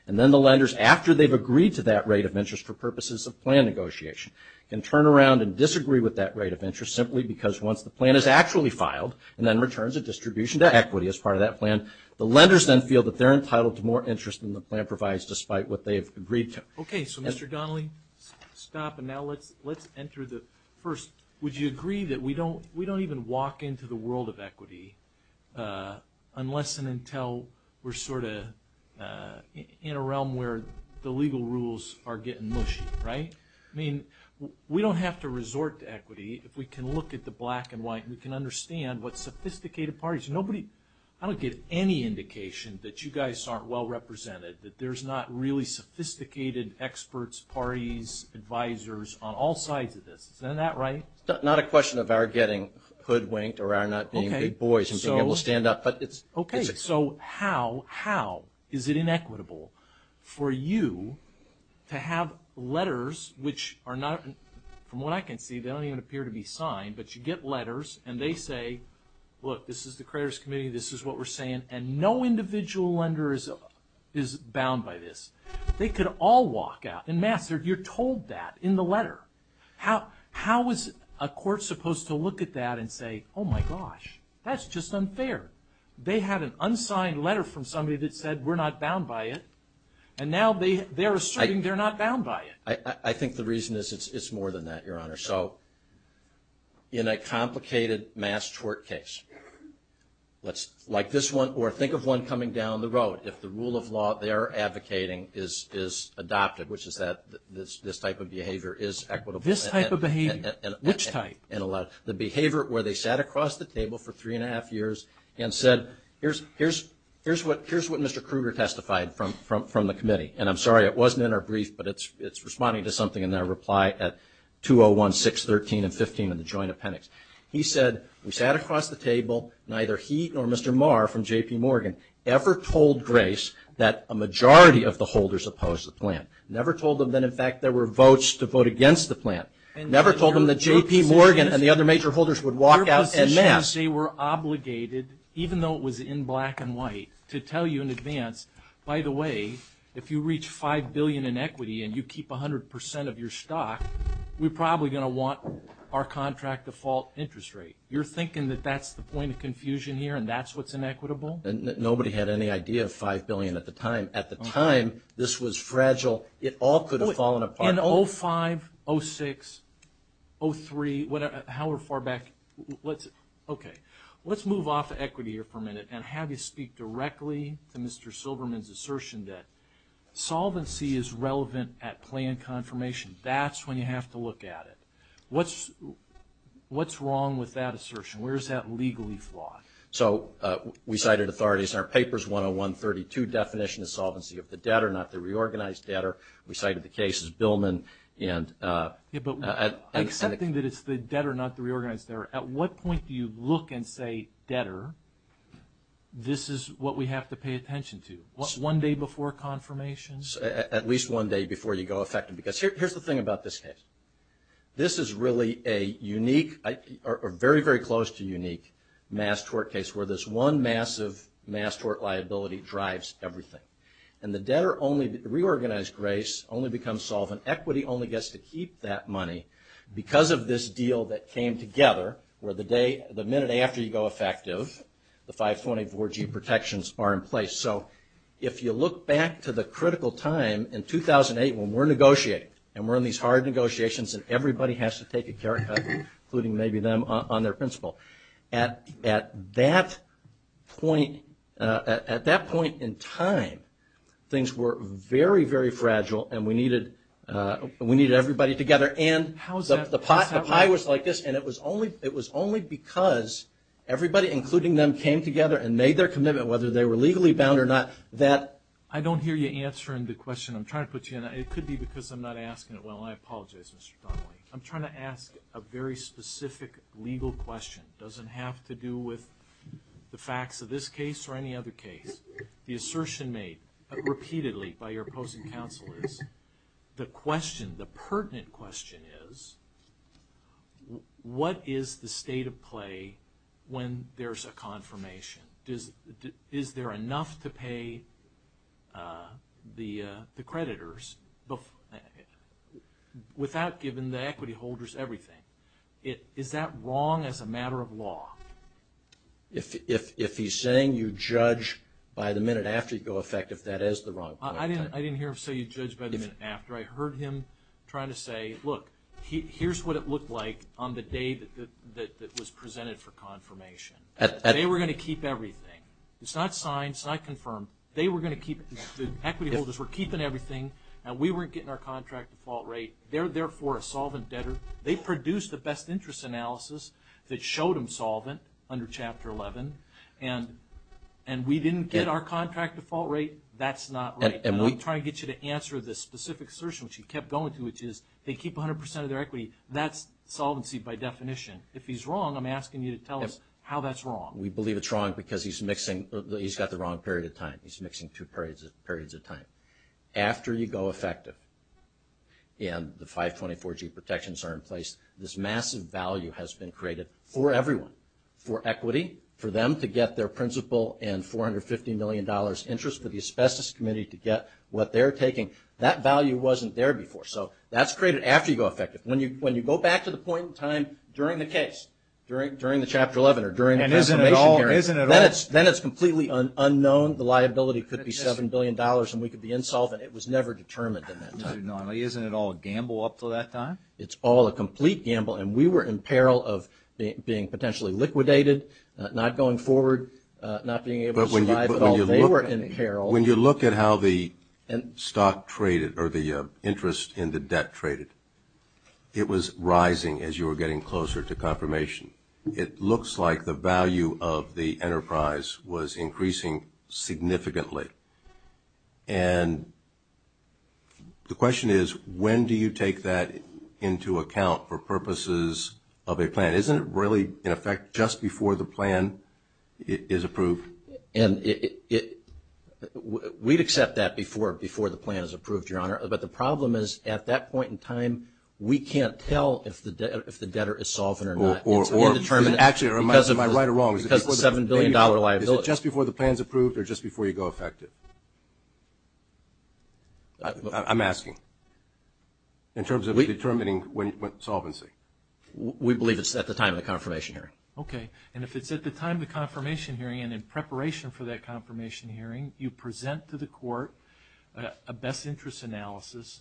And then the lenders, after they've agreed to that rate of interest for purposes of plan negotiation, can turn around and disagree with that rate of interest simply because once the plan is actually filed and then returns a distribution to equity as part of that plan, the lenders then feel that they're entitled to more interest than the plan provides despite what they've agreed to. Okay, so Mr. Donnelly, stop, and now let's enter the first. Would you agree that we don't even walk into the world of equity unless and until the legal rules are getting mushy, right? I mean, we don't have to resort to equity. If we can look at the black and white, we can understand what sophisticated parties. I don't get any indication that you guys aren't well represented, that there's not really sophisticated experts, parties, advisors, on all sides of this. Isn't that right? It's not a question of our getting hoodwinked or our not being big boys and being able to stand up. Okay, so how is it inequitable? For you to have letters which are not, from what I can see, they don't even appear to be signed, but you get letters and they say, look, this is the creditors committee, this is what we're saying, and no individual lender is bound by this. They could all walk out. And, Master, you're told that in the letter. How is a court supposed to look at that and say, oh my gosh, that's just unfair. They had an unsigned letter from somebody that said we're not bound by it, and now they're asserting they're not bound by it. I think the reason is it's more than that, Your Honor. So in a complicated mass tort case, like this one, or think of one coming down the road, if the rule of law they're advocating is adopted, which is that this type of behavior is equitable. This type of behavior, which type? The behavior where they sat across the table for three and a half years and said here's what Mr. Kruger testified from the committee. And I'm sorry, it wasn't in our brief, but it's responding to something in their reply at 201, 613, and 15 in the Joint Appendix. He said, we sat across the table, neither he nor Mr. Marr from J.P. Morgan ever told Grace that a majority of the holders opposed the plan, never told them that, in fact, there were votes to vote against the plan, never told them that J.P. Morgan and the other major holders would walk out. Your position is they were obligated, even though it was in black and white, to tell you in advance, by the way, if you reach $5 billion in equity and you keep 100% of your stock, we're probably going to want our contract default interest rate. You're thinking that that's the point of confusion here and that's what's inequitable? Nobody had any idea of $5 billion at the time. At the time, this was fragile. It all could have fallen apart. And 05, 06, 03, however far back, okay. Let's move off equity here for a minute and have you speak directly to Mr. Silberman's assertion that solvency is relevant at plan confirmation. That's when you have to look at it. What's wrong with that assertion? Where is that legally flawed? So we cited authorities in our papers, 101, 32, definition of solvency of the debtor, not the reorganized debtor. We cited the cases, Billman. But accepting that it's the debtor, not the reorganized debtor, at what point do you look and say, debtor, this is what we have to pay attention to? One day before confirmation? At least one day before you go affect them. Because here's the thing about this case. This is really a unique or very, very close to unique mass tort case where this one massive mass tort liability drives everything. And the debtor only, reorganized grace, only becomes solvent. Equity only gets to keep that money because of this deal that came together where the minute after you go effective, the 524G protections are in place. So if you look back to the critical time in 2008 when we're negotiating and we're in these hard negotiations and everybody has to take a care, including maybe them, on their principle. At that point in time, things were very, very fragile and we needed everybody together. And the pie was like this. And it was only because everybody, including them, came together and made their commitment, whether they were legally bound or not. I don't hear you answering the question I'm trying to put you in. It could be because I'm not asking it well. I apologize, Mr. Donnelly. I'm trying to ask a very specific legal question. It doesn't have to do with the facts of this case or any other case. The assertion made repeatedly by your opposing counsel is the question, the pertinent question is what is the state of play when there's a confirmation? Is there enough to pay the creditors without giving the equity holders everything? Is that wrong as a matter of law? If he's saying you judge by the minute after you go effective, that is the wrong point. I didn't hear him say you judge by the minute after. I heard him trying to say, look, here's what it looked like on the day that was presented for confirmation. They were going to keep everything. It's not signed. It's not confirmed. They were going to keep it. The equity holders were keeping everything, and we weren't getting our contract default rate. They're therefore a solvent debtor. They produced the best interest analysis that showed them solvent under Chapter 11, and we didn't get our contract default rate. That's not right. I'm trying to get you to answer this specific assertion, which he kept going to, which is they keep 100 percent of their equity. That's solvency by definition. If he's wrong, I'm asking you to tell us how that's wrong. We believe it's wrong because he's got the wrong period of time. He's mixing two periods of time. After you go effective and the 524G protections are in place, this massive value has been created for everyone, for equity, for them to get their principal and $450 million interest for the Asbestos Committee to get what they're taking. When you go back to the point in time during the case, during the Chapter 11 or during the confirmation hearing, then it's completely unknown. The liability could be $7 billion and we could be insolvent. It was never determined at that time. Isn't it all a gamble up until that time? It's all a complete gamble, and we were in peril of being potentially liquidated, not going forward, not being able to survive at all. They were in peril. When you look at how the stock traded or the interest in the debt traded, it was rising as you were getting closer to confirmation. It looks like the value of the enterprise was increasing significantly. And the question is, when do you take that into account for purposes of a plan? Isn't it really, in effect, just before the plan is approved? And we'd accept that before the plan is approved, Your Honor. But the problem is, at that point in time, we can't tell if the debtor is solvent or not. Actually, am I right or wrong? Is it just before the plan is approved or just before you go effective? I'm asking in terms of determining solvency. We believe it's at the time of the confirmation hearing. Okay. And if it's at the time of the confirmation hearing and in preparation for that confirmation hearing, you present to the court a best interest analysis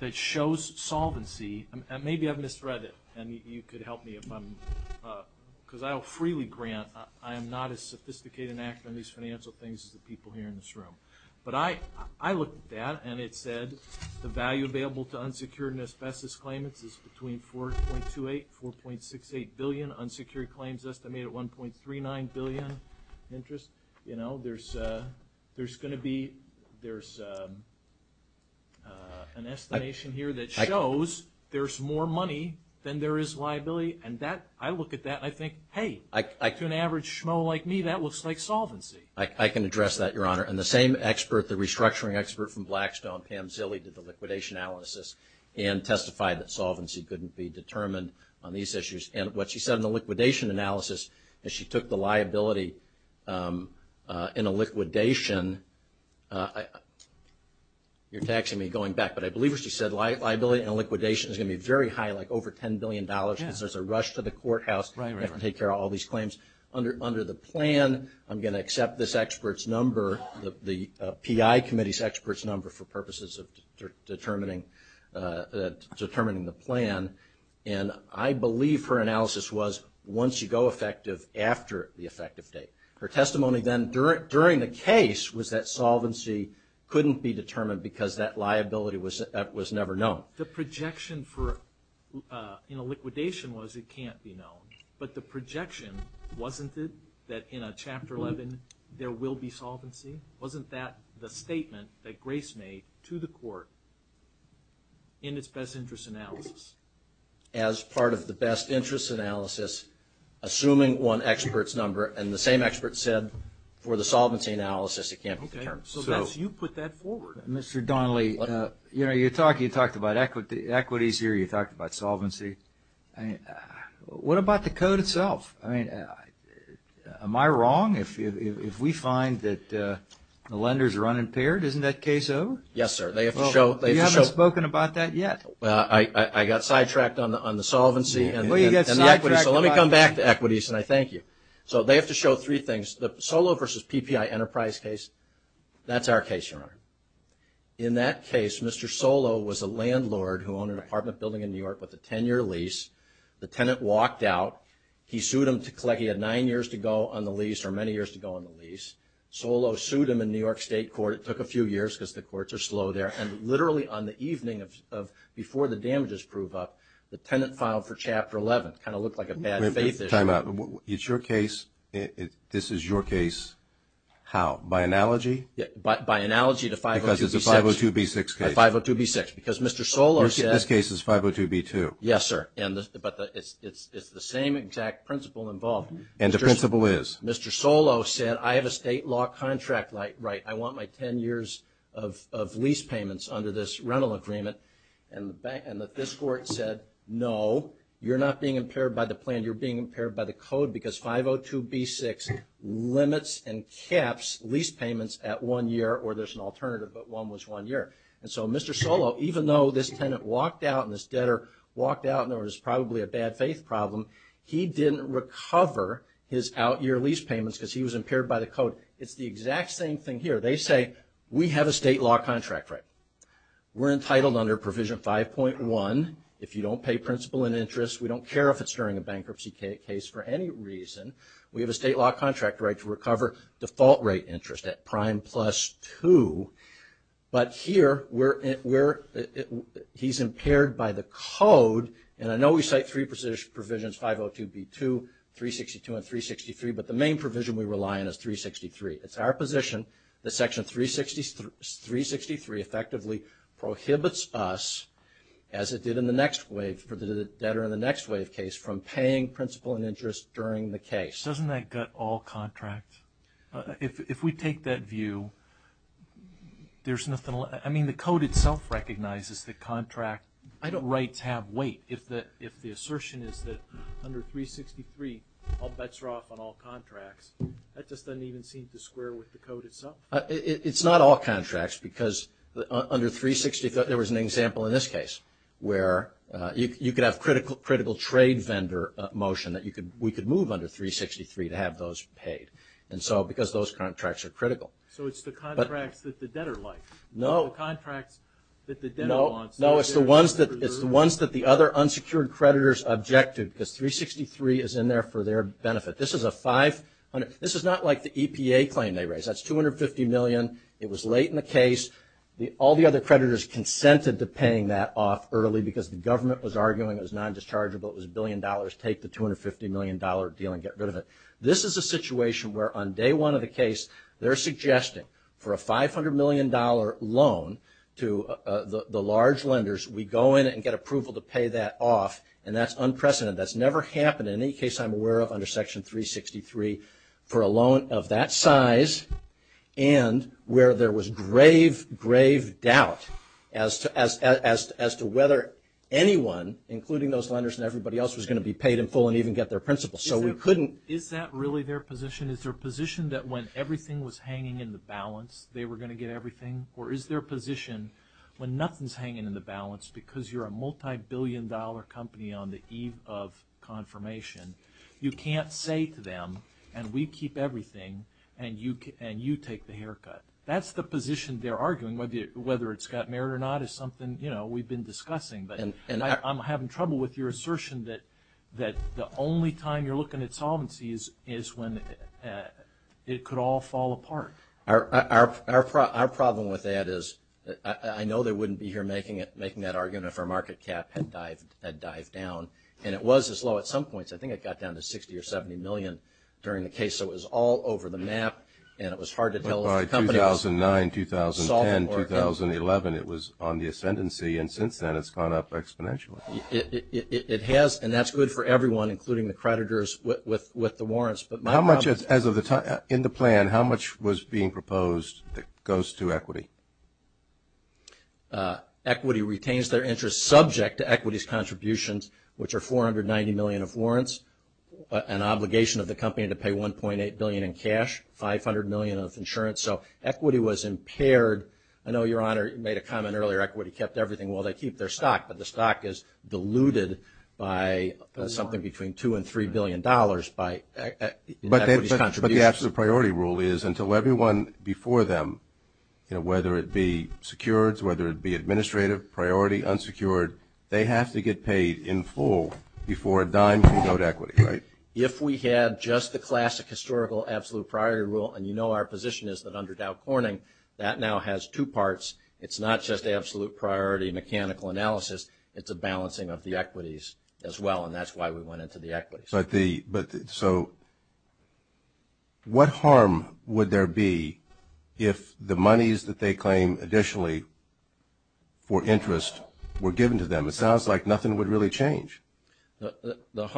that shows solvency. Maybe I've misread it, and you could help me. Because I will freely grant I am not as sophisticated and accurate in these financial things as the people here in this room. But I looked at that, and it said the value available to unsecured and asbestos claimants is between $4.28 billion, $4.68 billion. Unsecured claims estimated at $1.39 billion in interest. There's going to be an estimation here that shows there's more money than there is liability. And I look at that, and I think, hey, to an average schmo like me, that looks like solvency. I can address that, Your Honor. And the same expert, the restructuring expert from Blackstone, Pam Zilly, did the liquidation analysis and testified that solvency couldn't be determined on these issues. And what she said in the liquidation analysis is she took the liability in a liquidation. You're taxing me going back, but I believe what she said, liability in a liquidation is going to be very high, like over $10 billion, because there's a rush to the courthouse to take care of all these claims. Under the plan, I'm going to accept this expert's number, the PI committee's expert's number for purposes of determining the plan. And I believe her analysis was once you go effective, after the effective date. Her testimony then during the case was that solvency couldn't be determined because that liability was never known. The projection for liquidation was it can't be known. But the projection wasn't it that in a Chapter 11 there will be solvency? Wasn't that the statement that Grace made to the court in its best interest analysis? As part of the best interest analysis, assuming one expert's number and the same expert said for the solvency analysis it can't be determined. Okay, so that's you put that forward. Mr. Donnelly, you talked about equities here, you talked about solvency. What about the code itself? I mean, am I wrong if we find that the lenders are unimpaired? Isn't that case O? Yes, sir. You haven't spoken about that yet. I got sidetracked on the solvency. Well, you got sidetracked. So let me come back to equities and I thank you. So they have to show three things. The SOLO versus PPI enterprise case, that's our case, Your Honor. In that case, Mr. SOLO was a landlord who owned an apartment building in New York with a 10-year lease. The tenant walked out. He sued him to collect. He had nine years to go on the lease or many years to go on the lease. SOLO sued him in New York State Court. It took a few years because the courts are slow there. And literally on the evening before the damages prove up, the tenant filed for Chapter 11. It kind of looked like a bad faith issue. Time out. It's your case. This is your case. How? By analogy? By analogy to 502B6. Because it's a 502B6 case. By 502B6. Because Mr. SOLO said. This case is 502B2. Yes, sir. But it's the same exact principle involved. And the principle is? Mr. SOLO said, I have a state law contract right. I want my 10 years of lease payments under this rental agreement. And this court said, no, you're not being impaired by the plan. You're being impaired by the code because 502B6 limits and caps lease payments at one year. Or there's an alternative, but one was one year. And so Mr. SOLO, even though this tenant walked out and this debtor walked out and there was probably a bad faith problem, he didn't recover his out-year lease payments because he was impaired by the code. It's the exact same thing here. They say, we have a state law contract right. We're entitled under Provision 5.1. If you don't pay principal and interest, we don't care if it's during a bankruptcy case for any reason. We have a state law contract right to recover default rate interest at prime plus 2. But here, he's impaired by the code. And I know we cite three provisions, 502B2, 362, and 363, but the main provision we rely on is 363. It's our position that Section 363 effectively prohibits us, as it did in the next wave for the debtor in the next wave case, from paying principal and interest during the case. Doesn't that gut all contracts? If we take that view, there's nothing left. I mean, the code itself recognizes the contract. I don't write tab wait. If the assertion is that under 363 all bets are off on all contracts, that just doesn't even seem to square with the code itself. It's not all contracts because under 363, there was an example in this case where you could have critical trade vendor motion that we could move under 363 to have those paid, because those contracts are critical. So it's the contracts that the debtor likes? No. The contracts that the debtor wants? No, it's the ones that the other unsecured creditors objected because 363 is in there for their benefit. This is not like the EPA claim they raised. That's $250 million. It was late in the case. All the other creditors consented to paying that off early because the government was arguing it was non-dischargeable. It was $1 billion, take the $250 million deal and get rid of it. This is a situation where on day one of the case, they're suggesting for a $500 million loan to the large lenders, we go in and get approval to pay that off, and that's unprecedented. That's never happened in any case I'm aware of under Section 363 for a loan of that size and where there was grave, grave doubt as to whether anyone, including those lenders and everybody else, was going to be paid in full and even get their principal. So we couldn't. Is that really their position? Is their position that when everything was hanging in the balance, they were going to get everything? Or is their position when nothing's hanging in the balance because you're a multibillion-dollar company on the eve of confirmation, you can't say to them, and we keep everything, and you take the haircut? That's the position they're arguing, whether it's got merit or not, is something we've been discussing. But I'm having trouble with your assertion that the only time you're looking at solvency is when it could all fall apart. Our problem with that is I know they wouldn't be here making that argument if our market cap had dived down, and it was as low at some points. I think it got down to $60 or $70 million during the case, so it was all over the map, and it was hard to tell if the company was solvent or in. By 2009, 2010, 2011, it was on the ascendancy, and since then it's gone up exponentially. It has, and that's good for everyone, including the creditors with the warrants. How much, as of the time in the plan, how much was being proposed that goes to equity? Equity retains their interest subject to equities contributions, which are $490 million of warrants, an obligation of the company to pay $1.8 billion in cash, $500 million of insurance. So equity was impaired. I know, Your Honor, you made a comment earlier, equity kept everything. Well, they keep their stock, but the stock is diluted by something between $2 and $3 billion in equities contributions. But the absolute priority rule is until everyone before them, whether it be secured, whether it be administrative, priority, unsecured, they have to get paid in full before a dime can go to equity, right? If we had just the classic historical absolute priority rule, and you know our position is that under Dow Corning, that now has two parts. It's not just absolute priority mechanical analysis. It's a balancing of the equities as well, and that's why we went into the equities. So what harm would there be if the monies that they claim additionally for interest were given to them? It sounds like nothing would really change. I thought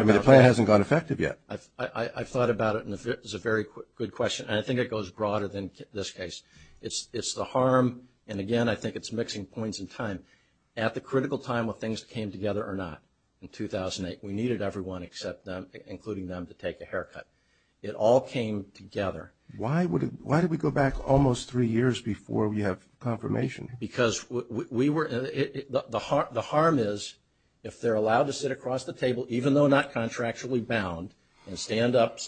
about it. I mean, the plan hasn't gone effective yet. I thought about it, and it's a very good question, and I think it goes broader than this case. It's the harm, and again, I think it's mixing points in time. At the critical time when things came together or not, in 2008, we needed everyone except them, including them, to take a haircut. It all came together. Why did we go back almost three years before we have confirmation? Because the harm is if they're allowed to sit across the table, even though not contractually bound, and stand up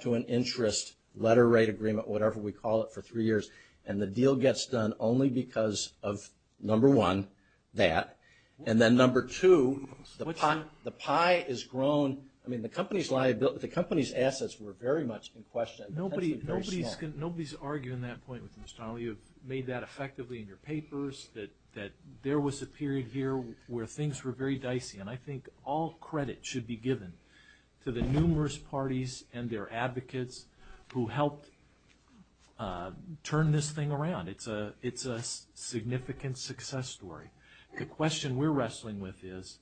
to an interest letter rate agreement, whatever we call it, for three years, and the deal gets done only because of, number one, that, and then number two, the pie has grown. I mean, the company's assets were very much in question. Nobody's arguing that point with you, Mr. Donnelly. You've made that effectively in your papers, that there was a period here where things were very dicey, and I think all credit should be given to the numerous parties and their advocates who helped turn this thing around. It's a significant success story. The question we're wrestling with is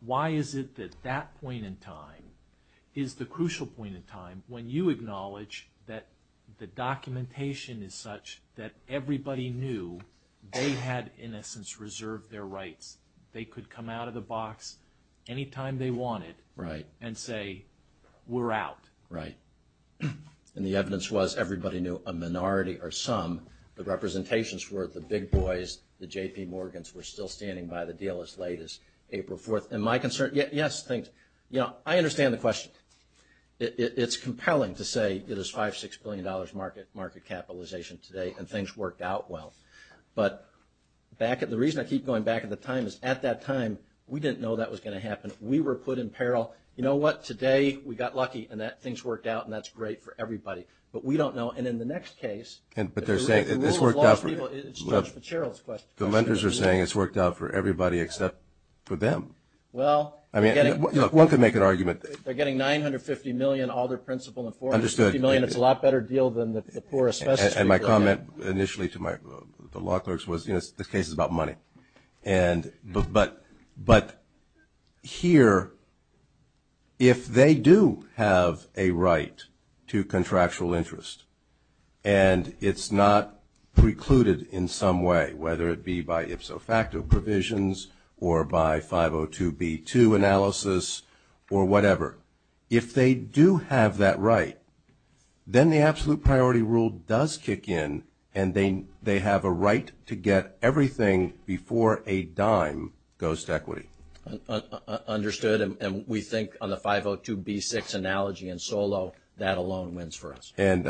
why is it that that point in time is the crucial point in time when you acknowledge that the documentation is such that everybody knew they had, in a sense, reserved their rights. They could come out of the box any time they wanted and say, we're out. Right. And the evidence was everybody knew, a minority or some, the representations were the big boys, the J.P. Morgans were still standing by the deal as late as April 4th. And my concern, yes, I understand the question. It's compelling to say it is $5, $6 billion market capitalization today and things worked out well. But the reason I keep going back in the time is at that time, we didn't know that was going to happen. We were put in peril. You know what? Today we got lucky and things worked out and that's great for everybody. But we don't know. And in the next case, the rule of law's people, it's Judge Fitzgerald's question. The lenders are saying it's worked out for everybody except for them. Well, they're getting – One could make an argument. They're getting $950 million, all their principal and $450 million. Understood. It's a lot better deal than the poorest – And my comment initially to the law clerks was, you know, this case is about money. But here, if they do have a right to contractual interest and it's not precluded in some way, whether it be by Ipso facto provisions or by 502B2 analysis or whatever, if they do have that right, then the absolute priority rule does kick in and they have a right to get everything before a dime goes to equity. Understood. And we think on the 502B6 analogy in SOLO, that alone wins for us. And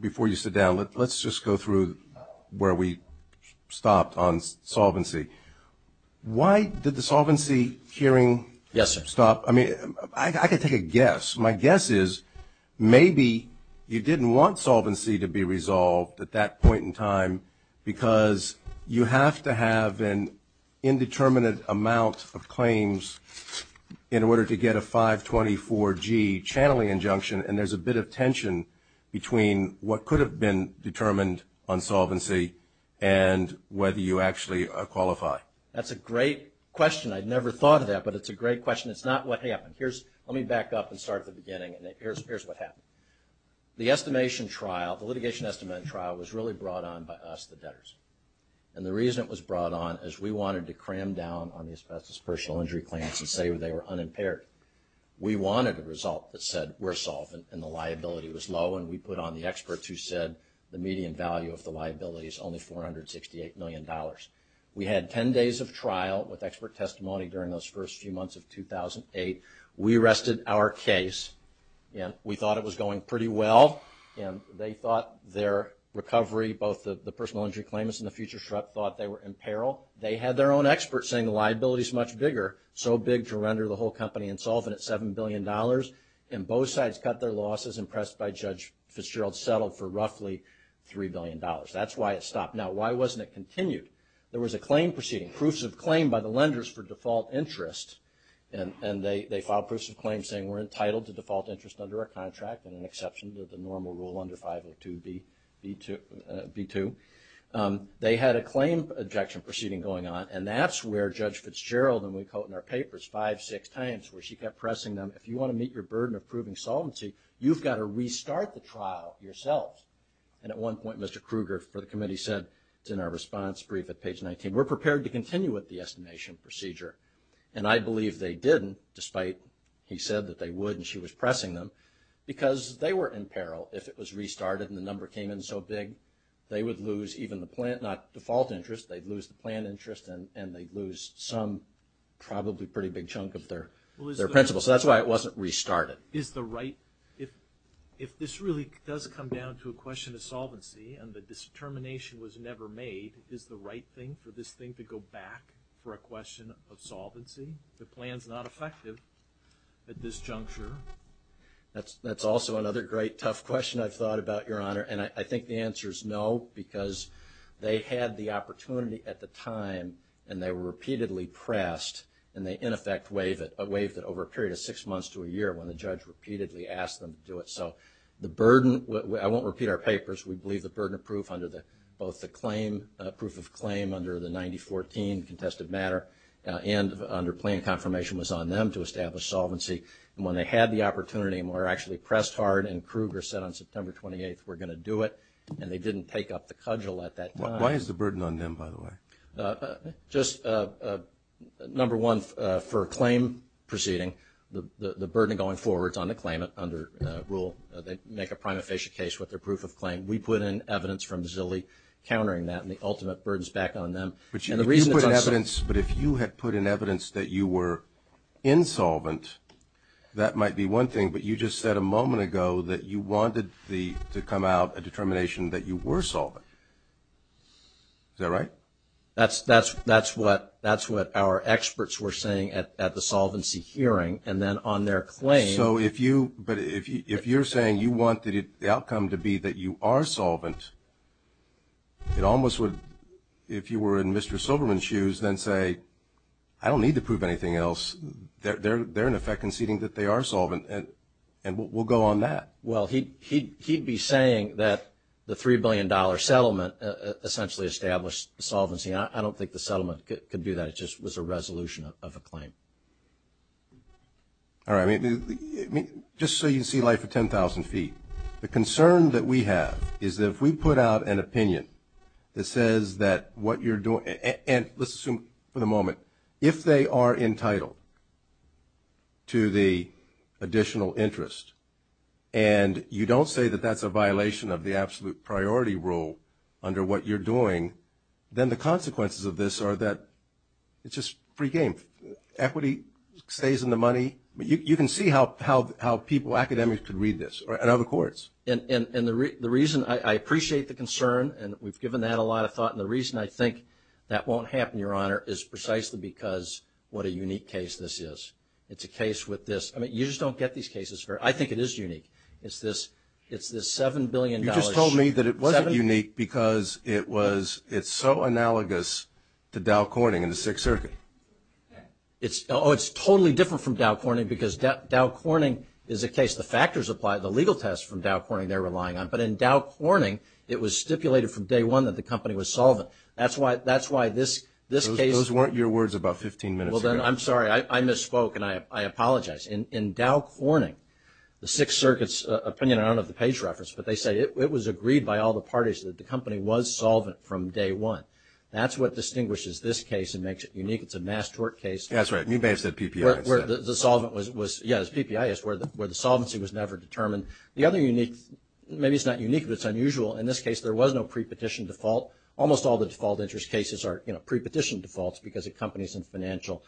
before you sit down, let's just go through where we stopped on solvency. Why did the solvency hearing stop? Yes, sir. I mean, I could take a guess. My guess is maybe you didn't want solvency to be resolved at that point in time because you have to have an indeterminate amount of claims in order to get a 524G channeling injunction, and there's a bit of tension between what could have been determined on solvency and whether you actually qualify. That's a great question. I'd never thought of that, but it's a great question. It's not what happened. Let me back up and start at the beginning, and here's what happened. The litigation estimate trial was really brought on by us, the debtors. And the reason it was brought on is we wanted to cram down on the asbestos personal injury claims and say they were unimpaired. We wanted a result that said we're solvent and the liability was low, and we put on the experts who said the median value of the liability is only $468 million. We had 10 days of trial with expert testimony during those first few months of 2008. We arrested our case, and we thought it was going pretty well, and they thought their recovery, both the personal injury claimants and the future SHREP thought they were in peril. They had their own experts saying the liability is much bigger, so big to render the whole company insolvent at $7 billion, and both sides cut their losses and pressed by Judge Fitzgerald settled for roughly $3 billion. That's why it stopped. Now, why wasn't it continued? There was a claim proceeding, proofs of claim by the lenders for default interest, and they filed proofs of claim saying we're entitled to default interest under our contract and an exception to the normal rule under 502B2. They had a claim objection proceeding going on, and that's where Judge Fitzgerald, and we quote in our papers five, six times, where she kept pressing them, if you want to meet your burden of proving solvency, you've got to restart the trial yourself. And at one point, Mr. Kruger for the committee said, it's in our response brief at page 19, we're prepared to continue with the estimation procedure. And I believe they didn't, despite he said that they would and she was pressing them, because they were in peril if it was restarted and the number came in so big. They would lose even the plant, not default interest, they'd lose the plant interest and they'd lose some probably pretty big chunk of their principal. So that's why it wasn't restarted. Is the right, if this really does come down to a question of solvency and the determination was never made, is the right thing for this thing to go back for a question of solvency? The plan's not effective at this juncture. That's also another great tough question I've thought about, Your Honor. And I think the answer is no, because they had the opportunity at the time and they were repeatedly pressed and they, in effect, waived it, waived it over a period of six months to a year when the judge repeatedly asked them to do it. So the burden, I won't repeat our papers, we believe the burden of proof under both the claim, proof of claim under the 9014 contested matter and under plan confirmation was on them to establish solvency. And when they had the opportunity and were actually pressed hard and Kruger said on September 28th we're going to do it and they didn't take up the cudgel at that time. Why is the burden on them, by the way? Just, number one, for a claim proceeding, the burden going forward is on the claimant under rule. They make a prima facie case with their proof of claim. We put in evidence from Zilli countering that and the ultimate burden's back on them. But you put in evidence, but if you had put in evidence that you were insolvent, that might be one thing, but you just said a moment ago that you wanted to come out a determination that you were solvent. Is that right? That's what our experts were saying at the solvency hearing and then on their claim. So if you're saying you want the outcome to be that you are solvent, it almost would, if you were in Mr. Silverman's shoes, then say I don't need to prove anything else. They're, in effect, conceding that they are solvent and we'll go on that. Well, he'd be saying that the $3 billion settlement essentially established the solvency. I don't think the settlement could do that. It just was a resolution of a claim. All right, just so you can see life at 10,000 feet, the concern that we have is that if we put out an opinion that says that what you're doing, and let's assume for the moment, if they are entitled to the additional interest and you don't say that that's a violation of the absolute priority rule under what you're doing, then the consequences of this are that it's just free game. Equity stays in the money. You can see how people, academics, could read this and other courts. And the reason I appreciate the concern, and we've given that a lot of thought, and the reason I think that won't happen, Your Honor, is precisely because what a unique case this is. It's a case with this. I mean, you just don't get these cases. I think it is unique. It's this $7 billion. You just told me that it wasn't unique because it's so analogous to Dow Corning and the Sixth Circuit. Oh, it's totally different from Dow Corning because Dow Corning is a case. The factors apply. The legal tests from Dow Corning they're relying on. But in Dow Corning, it was stipulated from day one that the company was solvent. That's why this case. Those weren't your words about 15 minutes ago. I'm sorry. I misspoke, and I apologize. In Dow Corning, the Sixth Circuit's opinion, I don't know if the page referenced, but they say it was agreed by all the parties that the company was solvent from day one. That's what distinguishes this case and makes it unique. It's a mass tort case. That's right. You may have said PPI. Yes, PPI is where the solvency was never determined. Maybe it's not unique, but it's unusual. In this case, there was no pre-petition default. Almost all the default interest cases are pre-petition defaults because the company is in financial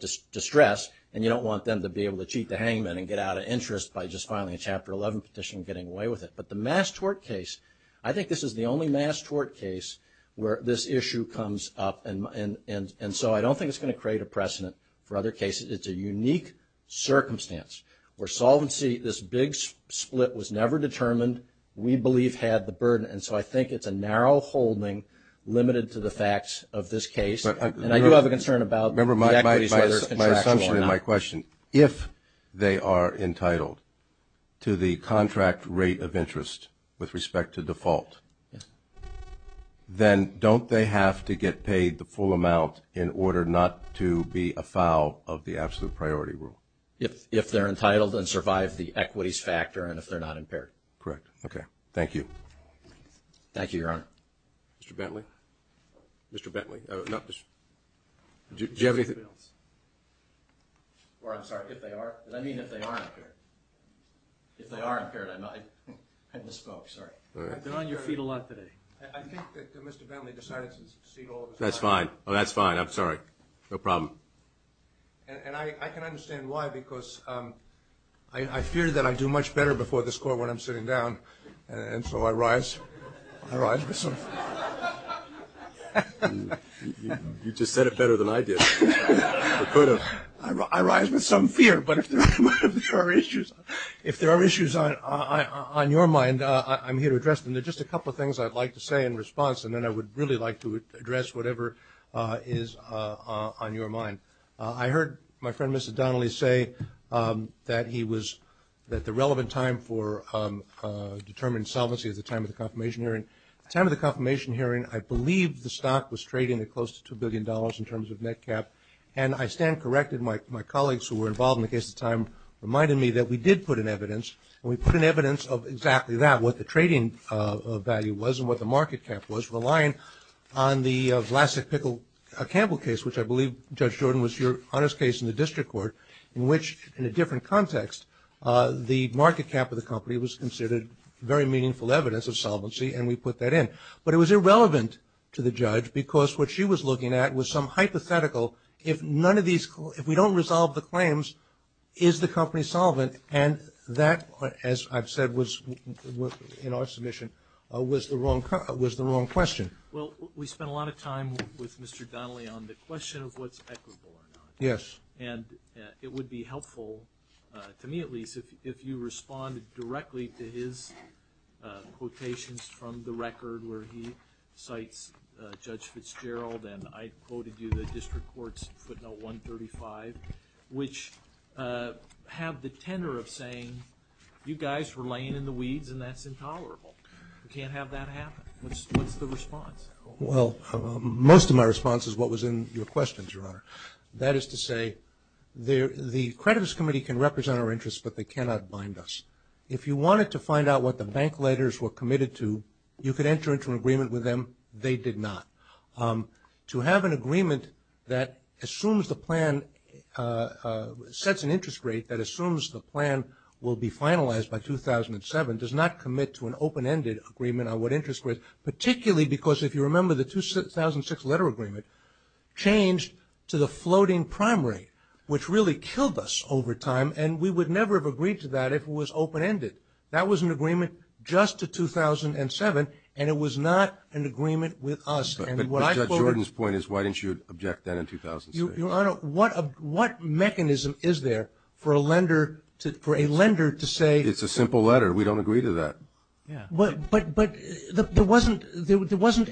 distress, and you don't want them to be able to cheat the hangman and get out of interest by just filing a Chapter 11 petition and getting away with it. But the mass tort case, I think this is the only mass tort case where this issue comes up. And so I don't think it's going to create a precedent for other cases. It's a unique circumstance where solvency, this big split, was never determined. We believe had the burden, and so I think it's a narrow holding limited to the facts of this case. And I do have a concern about the equities, whether it's contractual or not. Remember my assumption and my question. If they are entitled to the contract rate of interest with respect to default, then don't they have to get paid the full amount in order not to be a foul of the absolute priority rule? If they're entitled and survive the equities factor and if they're not impaired. Correct. Okay. Thank you. Thank you, Your Honor. Mr. Bentley? Mr. Bentley? Do you have anything else? Or I'm sorry, if they are. And I mean if they are impaired. If they are impaired, I misspoke. Sorry. I've been on your feet a lot today. I think that Mr. Bentley decided to secede all of his time. That's fine. That's fine. I'm sorry. No problem. And I can understand why because I fear that I do much better before this court when I'm sitting down. And so I rise with some fear. You just said it better than I did. I rise with some fear, but if there are issues on your mind, I'm here to address them. There are just a couple of things I'd like to say in response, and then I would really like to address whatever is on your mind. I heard my friend Mrs. Donnelly say that the relevant time for determined solvency is the time of the confirmation hearing. At the time of the confirmation hearing, I believe the stock was trading at close to $2 billion in terms of net cap. And I stand corrected. My colleagues who were involved in the case at the time reminded me that we did put in evidence, and we put in evidence of exactly that, what the trading value was and what the market cap was, relying on the Vlasic-Pickle-Campbell case, which I believe, Judge Jordan, was your honest case in the district court, in which, in a different context, the market cap of the company was considered very meaningful evidence of solvency, and we put that in. But it was irrelevant to the judge because what she was looking at was some hypothetical, if we don't resolve the claims, is the company solvent? And that, as I've said in our submission, was the wrong question. Well, we spent a lot of time with Mr. Donnelly on the question of what's equitable or not. Yes. And it would be helpful, to me at least, if you responded directly to his quotations from the record where he cites Judge Fitzgerald, and I quoted you the district court's footnote 135, which have the tenor of saying, you guys were laying in the weeds and that's intolerable. We can't have that happen. What's the response? Well, most of my response is what was in your questions, Your Honor. That is to say, the creditors' committee can represent our interests, but they cannot bind us. If you wanted to find out what the bank letters were committed to, you could enter into an agreement with them. They did not. To have an agreement that assumes the plan, sets an interest rate that assumes the plan will be finalized by 2007, does not commit to an open-ended agreement on what interest rates, particularly because, if you remember, the 2006 letter agreement changed to the floating primary, which really killed us over time, and we would never have agreed to that if it was open-ended. That was an agreement just to 2007, and it was not an agreement with us. But Judge Jordan's point is why didn't you object that in 2006? Your Honor, what mechanism is there for a lender to say — It's a simple letter. We don't agree to that. But there wasn't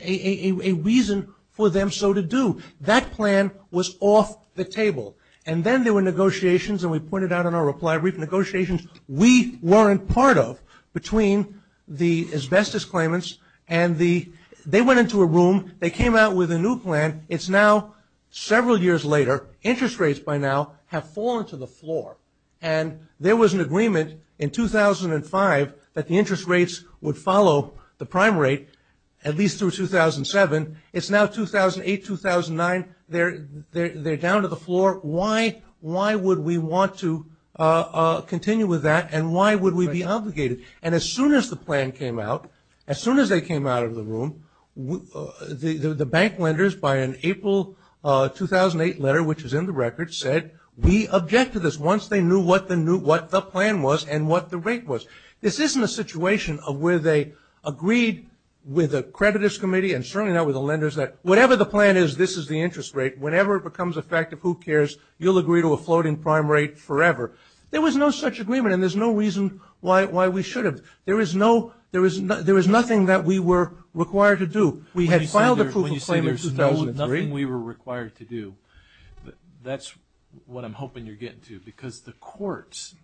a reason for them so to do. That plan was off the table. And then there were negotiations, and we pointed out in our reply brief, there were negotiations we weren't part of between the asbestos claimants, and they went into a room. They came out with a new plan. It's now several years later. Interest rates by now have fallen to the floor. And there was an agreement in 2005 that the interest rates would follow the prime rate, at least through 2007. It's now 2008, 2009. They're down to the floor. Why would we want to continue with that, and why would we be obligated? And as soon as the plan came out, as soon as they came out of the room, the bank lenders by an April 2008 letter, which is in the record, said we object to this once they knew what the plan was and what the rate was. This isn't a situation where they agreed with the creditors' committee, and certainly not with the lenders, that whatever the plan is, this is the interest rate. Whenever it becomes a fact of who cares, you'll agree to a floating prime rate forever. There was no such agreement, and there's no reason why we should have. There was nothing that we were required to do. We had filed a proof of claim in 2003. When you say there was nothing we were required to do, that's what I'm hoping you're getting to, because the courts,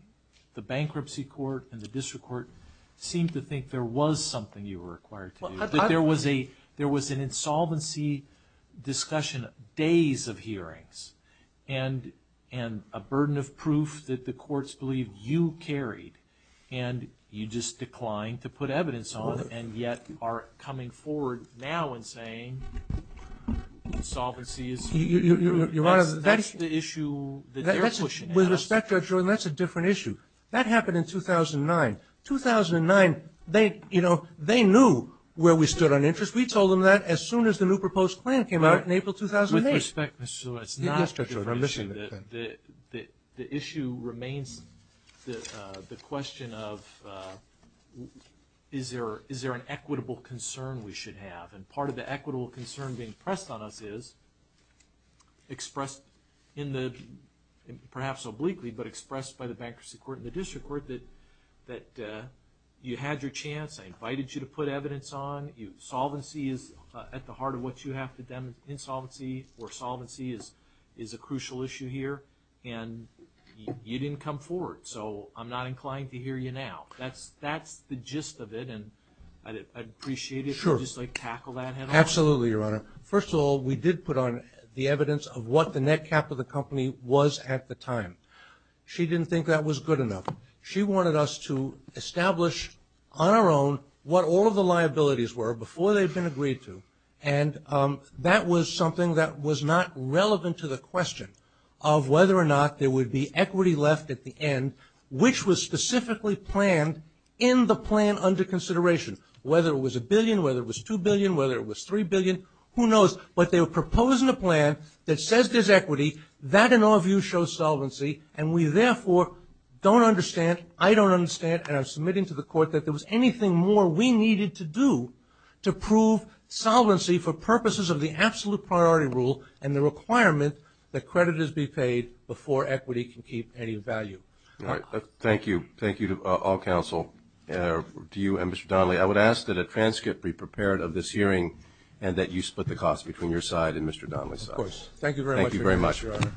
the bankruptcy court and the district court, seemed to think there was something you were required to do, that there was an insolvency discussion days of hearings and a burden of proof that the courts believed you carried, and you just declined to put evidence on it and yet are coming forward now and saying insolvency is the issue that they're pushing. With respect, Judge Jordan, that's a different issue. That happened in 2009. 2009, they knew where we stood on interest. We told them that as soon as the new proposed plan came out in April 2008. With respect, Mr. Shulman, it's not a different issue. The issue remains the question of is there an equitable concern we should have, and part of the equitable concern being pressed on us is, expressed perhaps obliquely but expressed by the bankruptcy court and the district court that you had your chance. I invited you to put evidence on. Solvency is at the heart of what you have to demonstrate. Insolvency or solvency is a crucial issue here, and you didn't come forward, so I'm not inclined to hear you now. That's the gist of it, and I'd appreciate it if you'd just tackle that head-on. Absolutely, Your Honor. First of all, we did put on the evidence of what the net cap of the company was at the time. She didn't think that was good enough. She wanted us to establish on our own what all of the liabilities were before they'd been agreed to, and that was something that was not relevant to the question of whether or not there would be equity left at the end, which was specifically planned in the plan under consideration, whether it was a billion, whether it was $2 billion, whether it was $3 billion, who knows. But they were proposing a plan that says there's equity. That, in our view, shows solvency, and we therefore don't understand, I don't understand, and I'm submitting to the Court that there was anything more we needed to do to prove solvency for purposes of the absolute priority rule and the requirement that creditors be paid before equity can keep any value. All right. Thank you. Thank you to all counsel, to you and Mr. Donnelly. I would ask that a transcript be prepared of this hearing and that you split the cost between your side and Mr. Donnelly's side. Of course. Thank you very much. Thank you very much.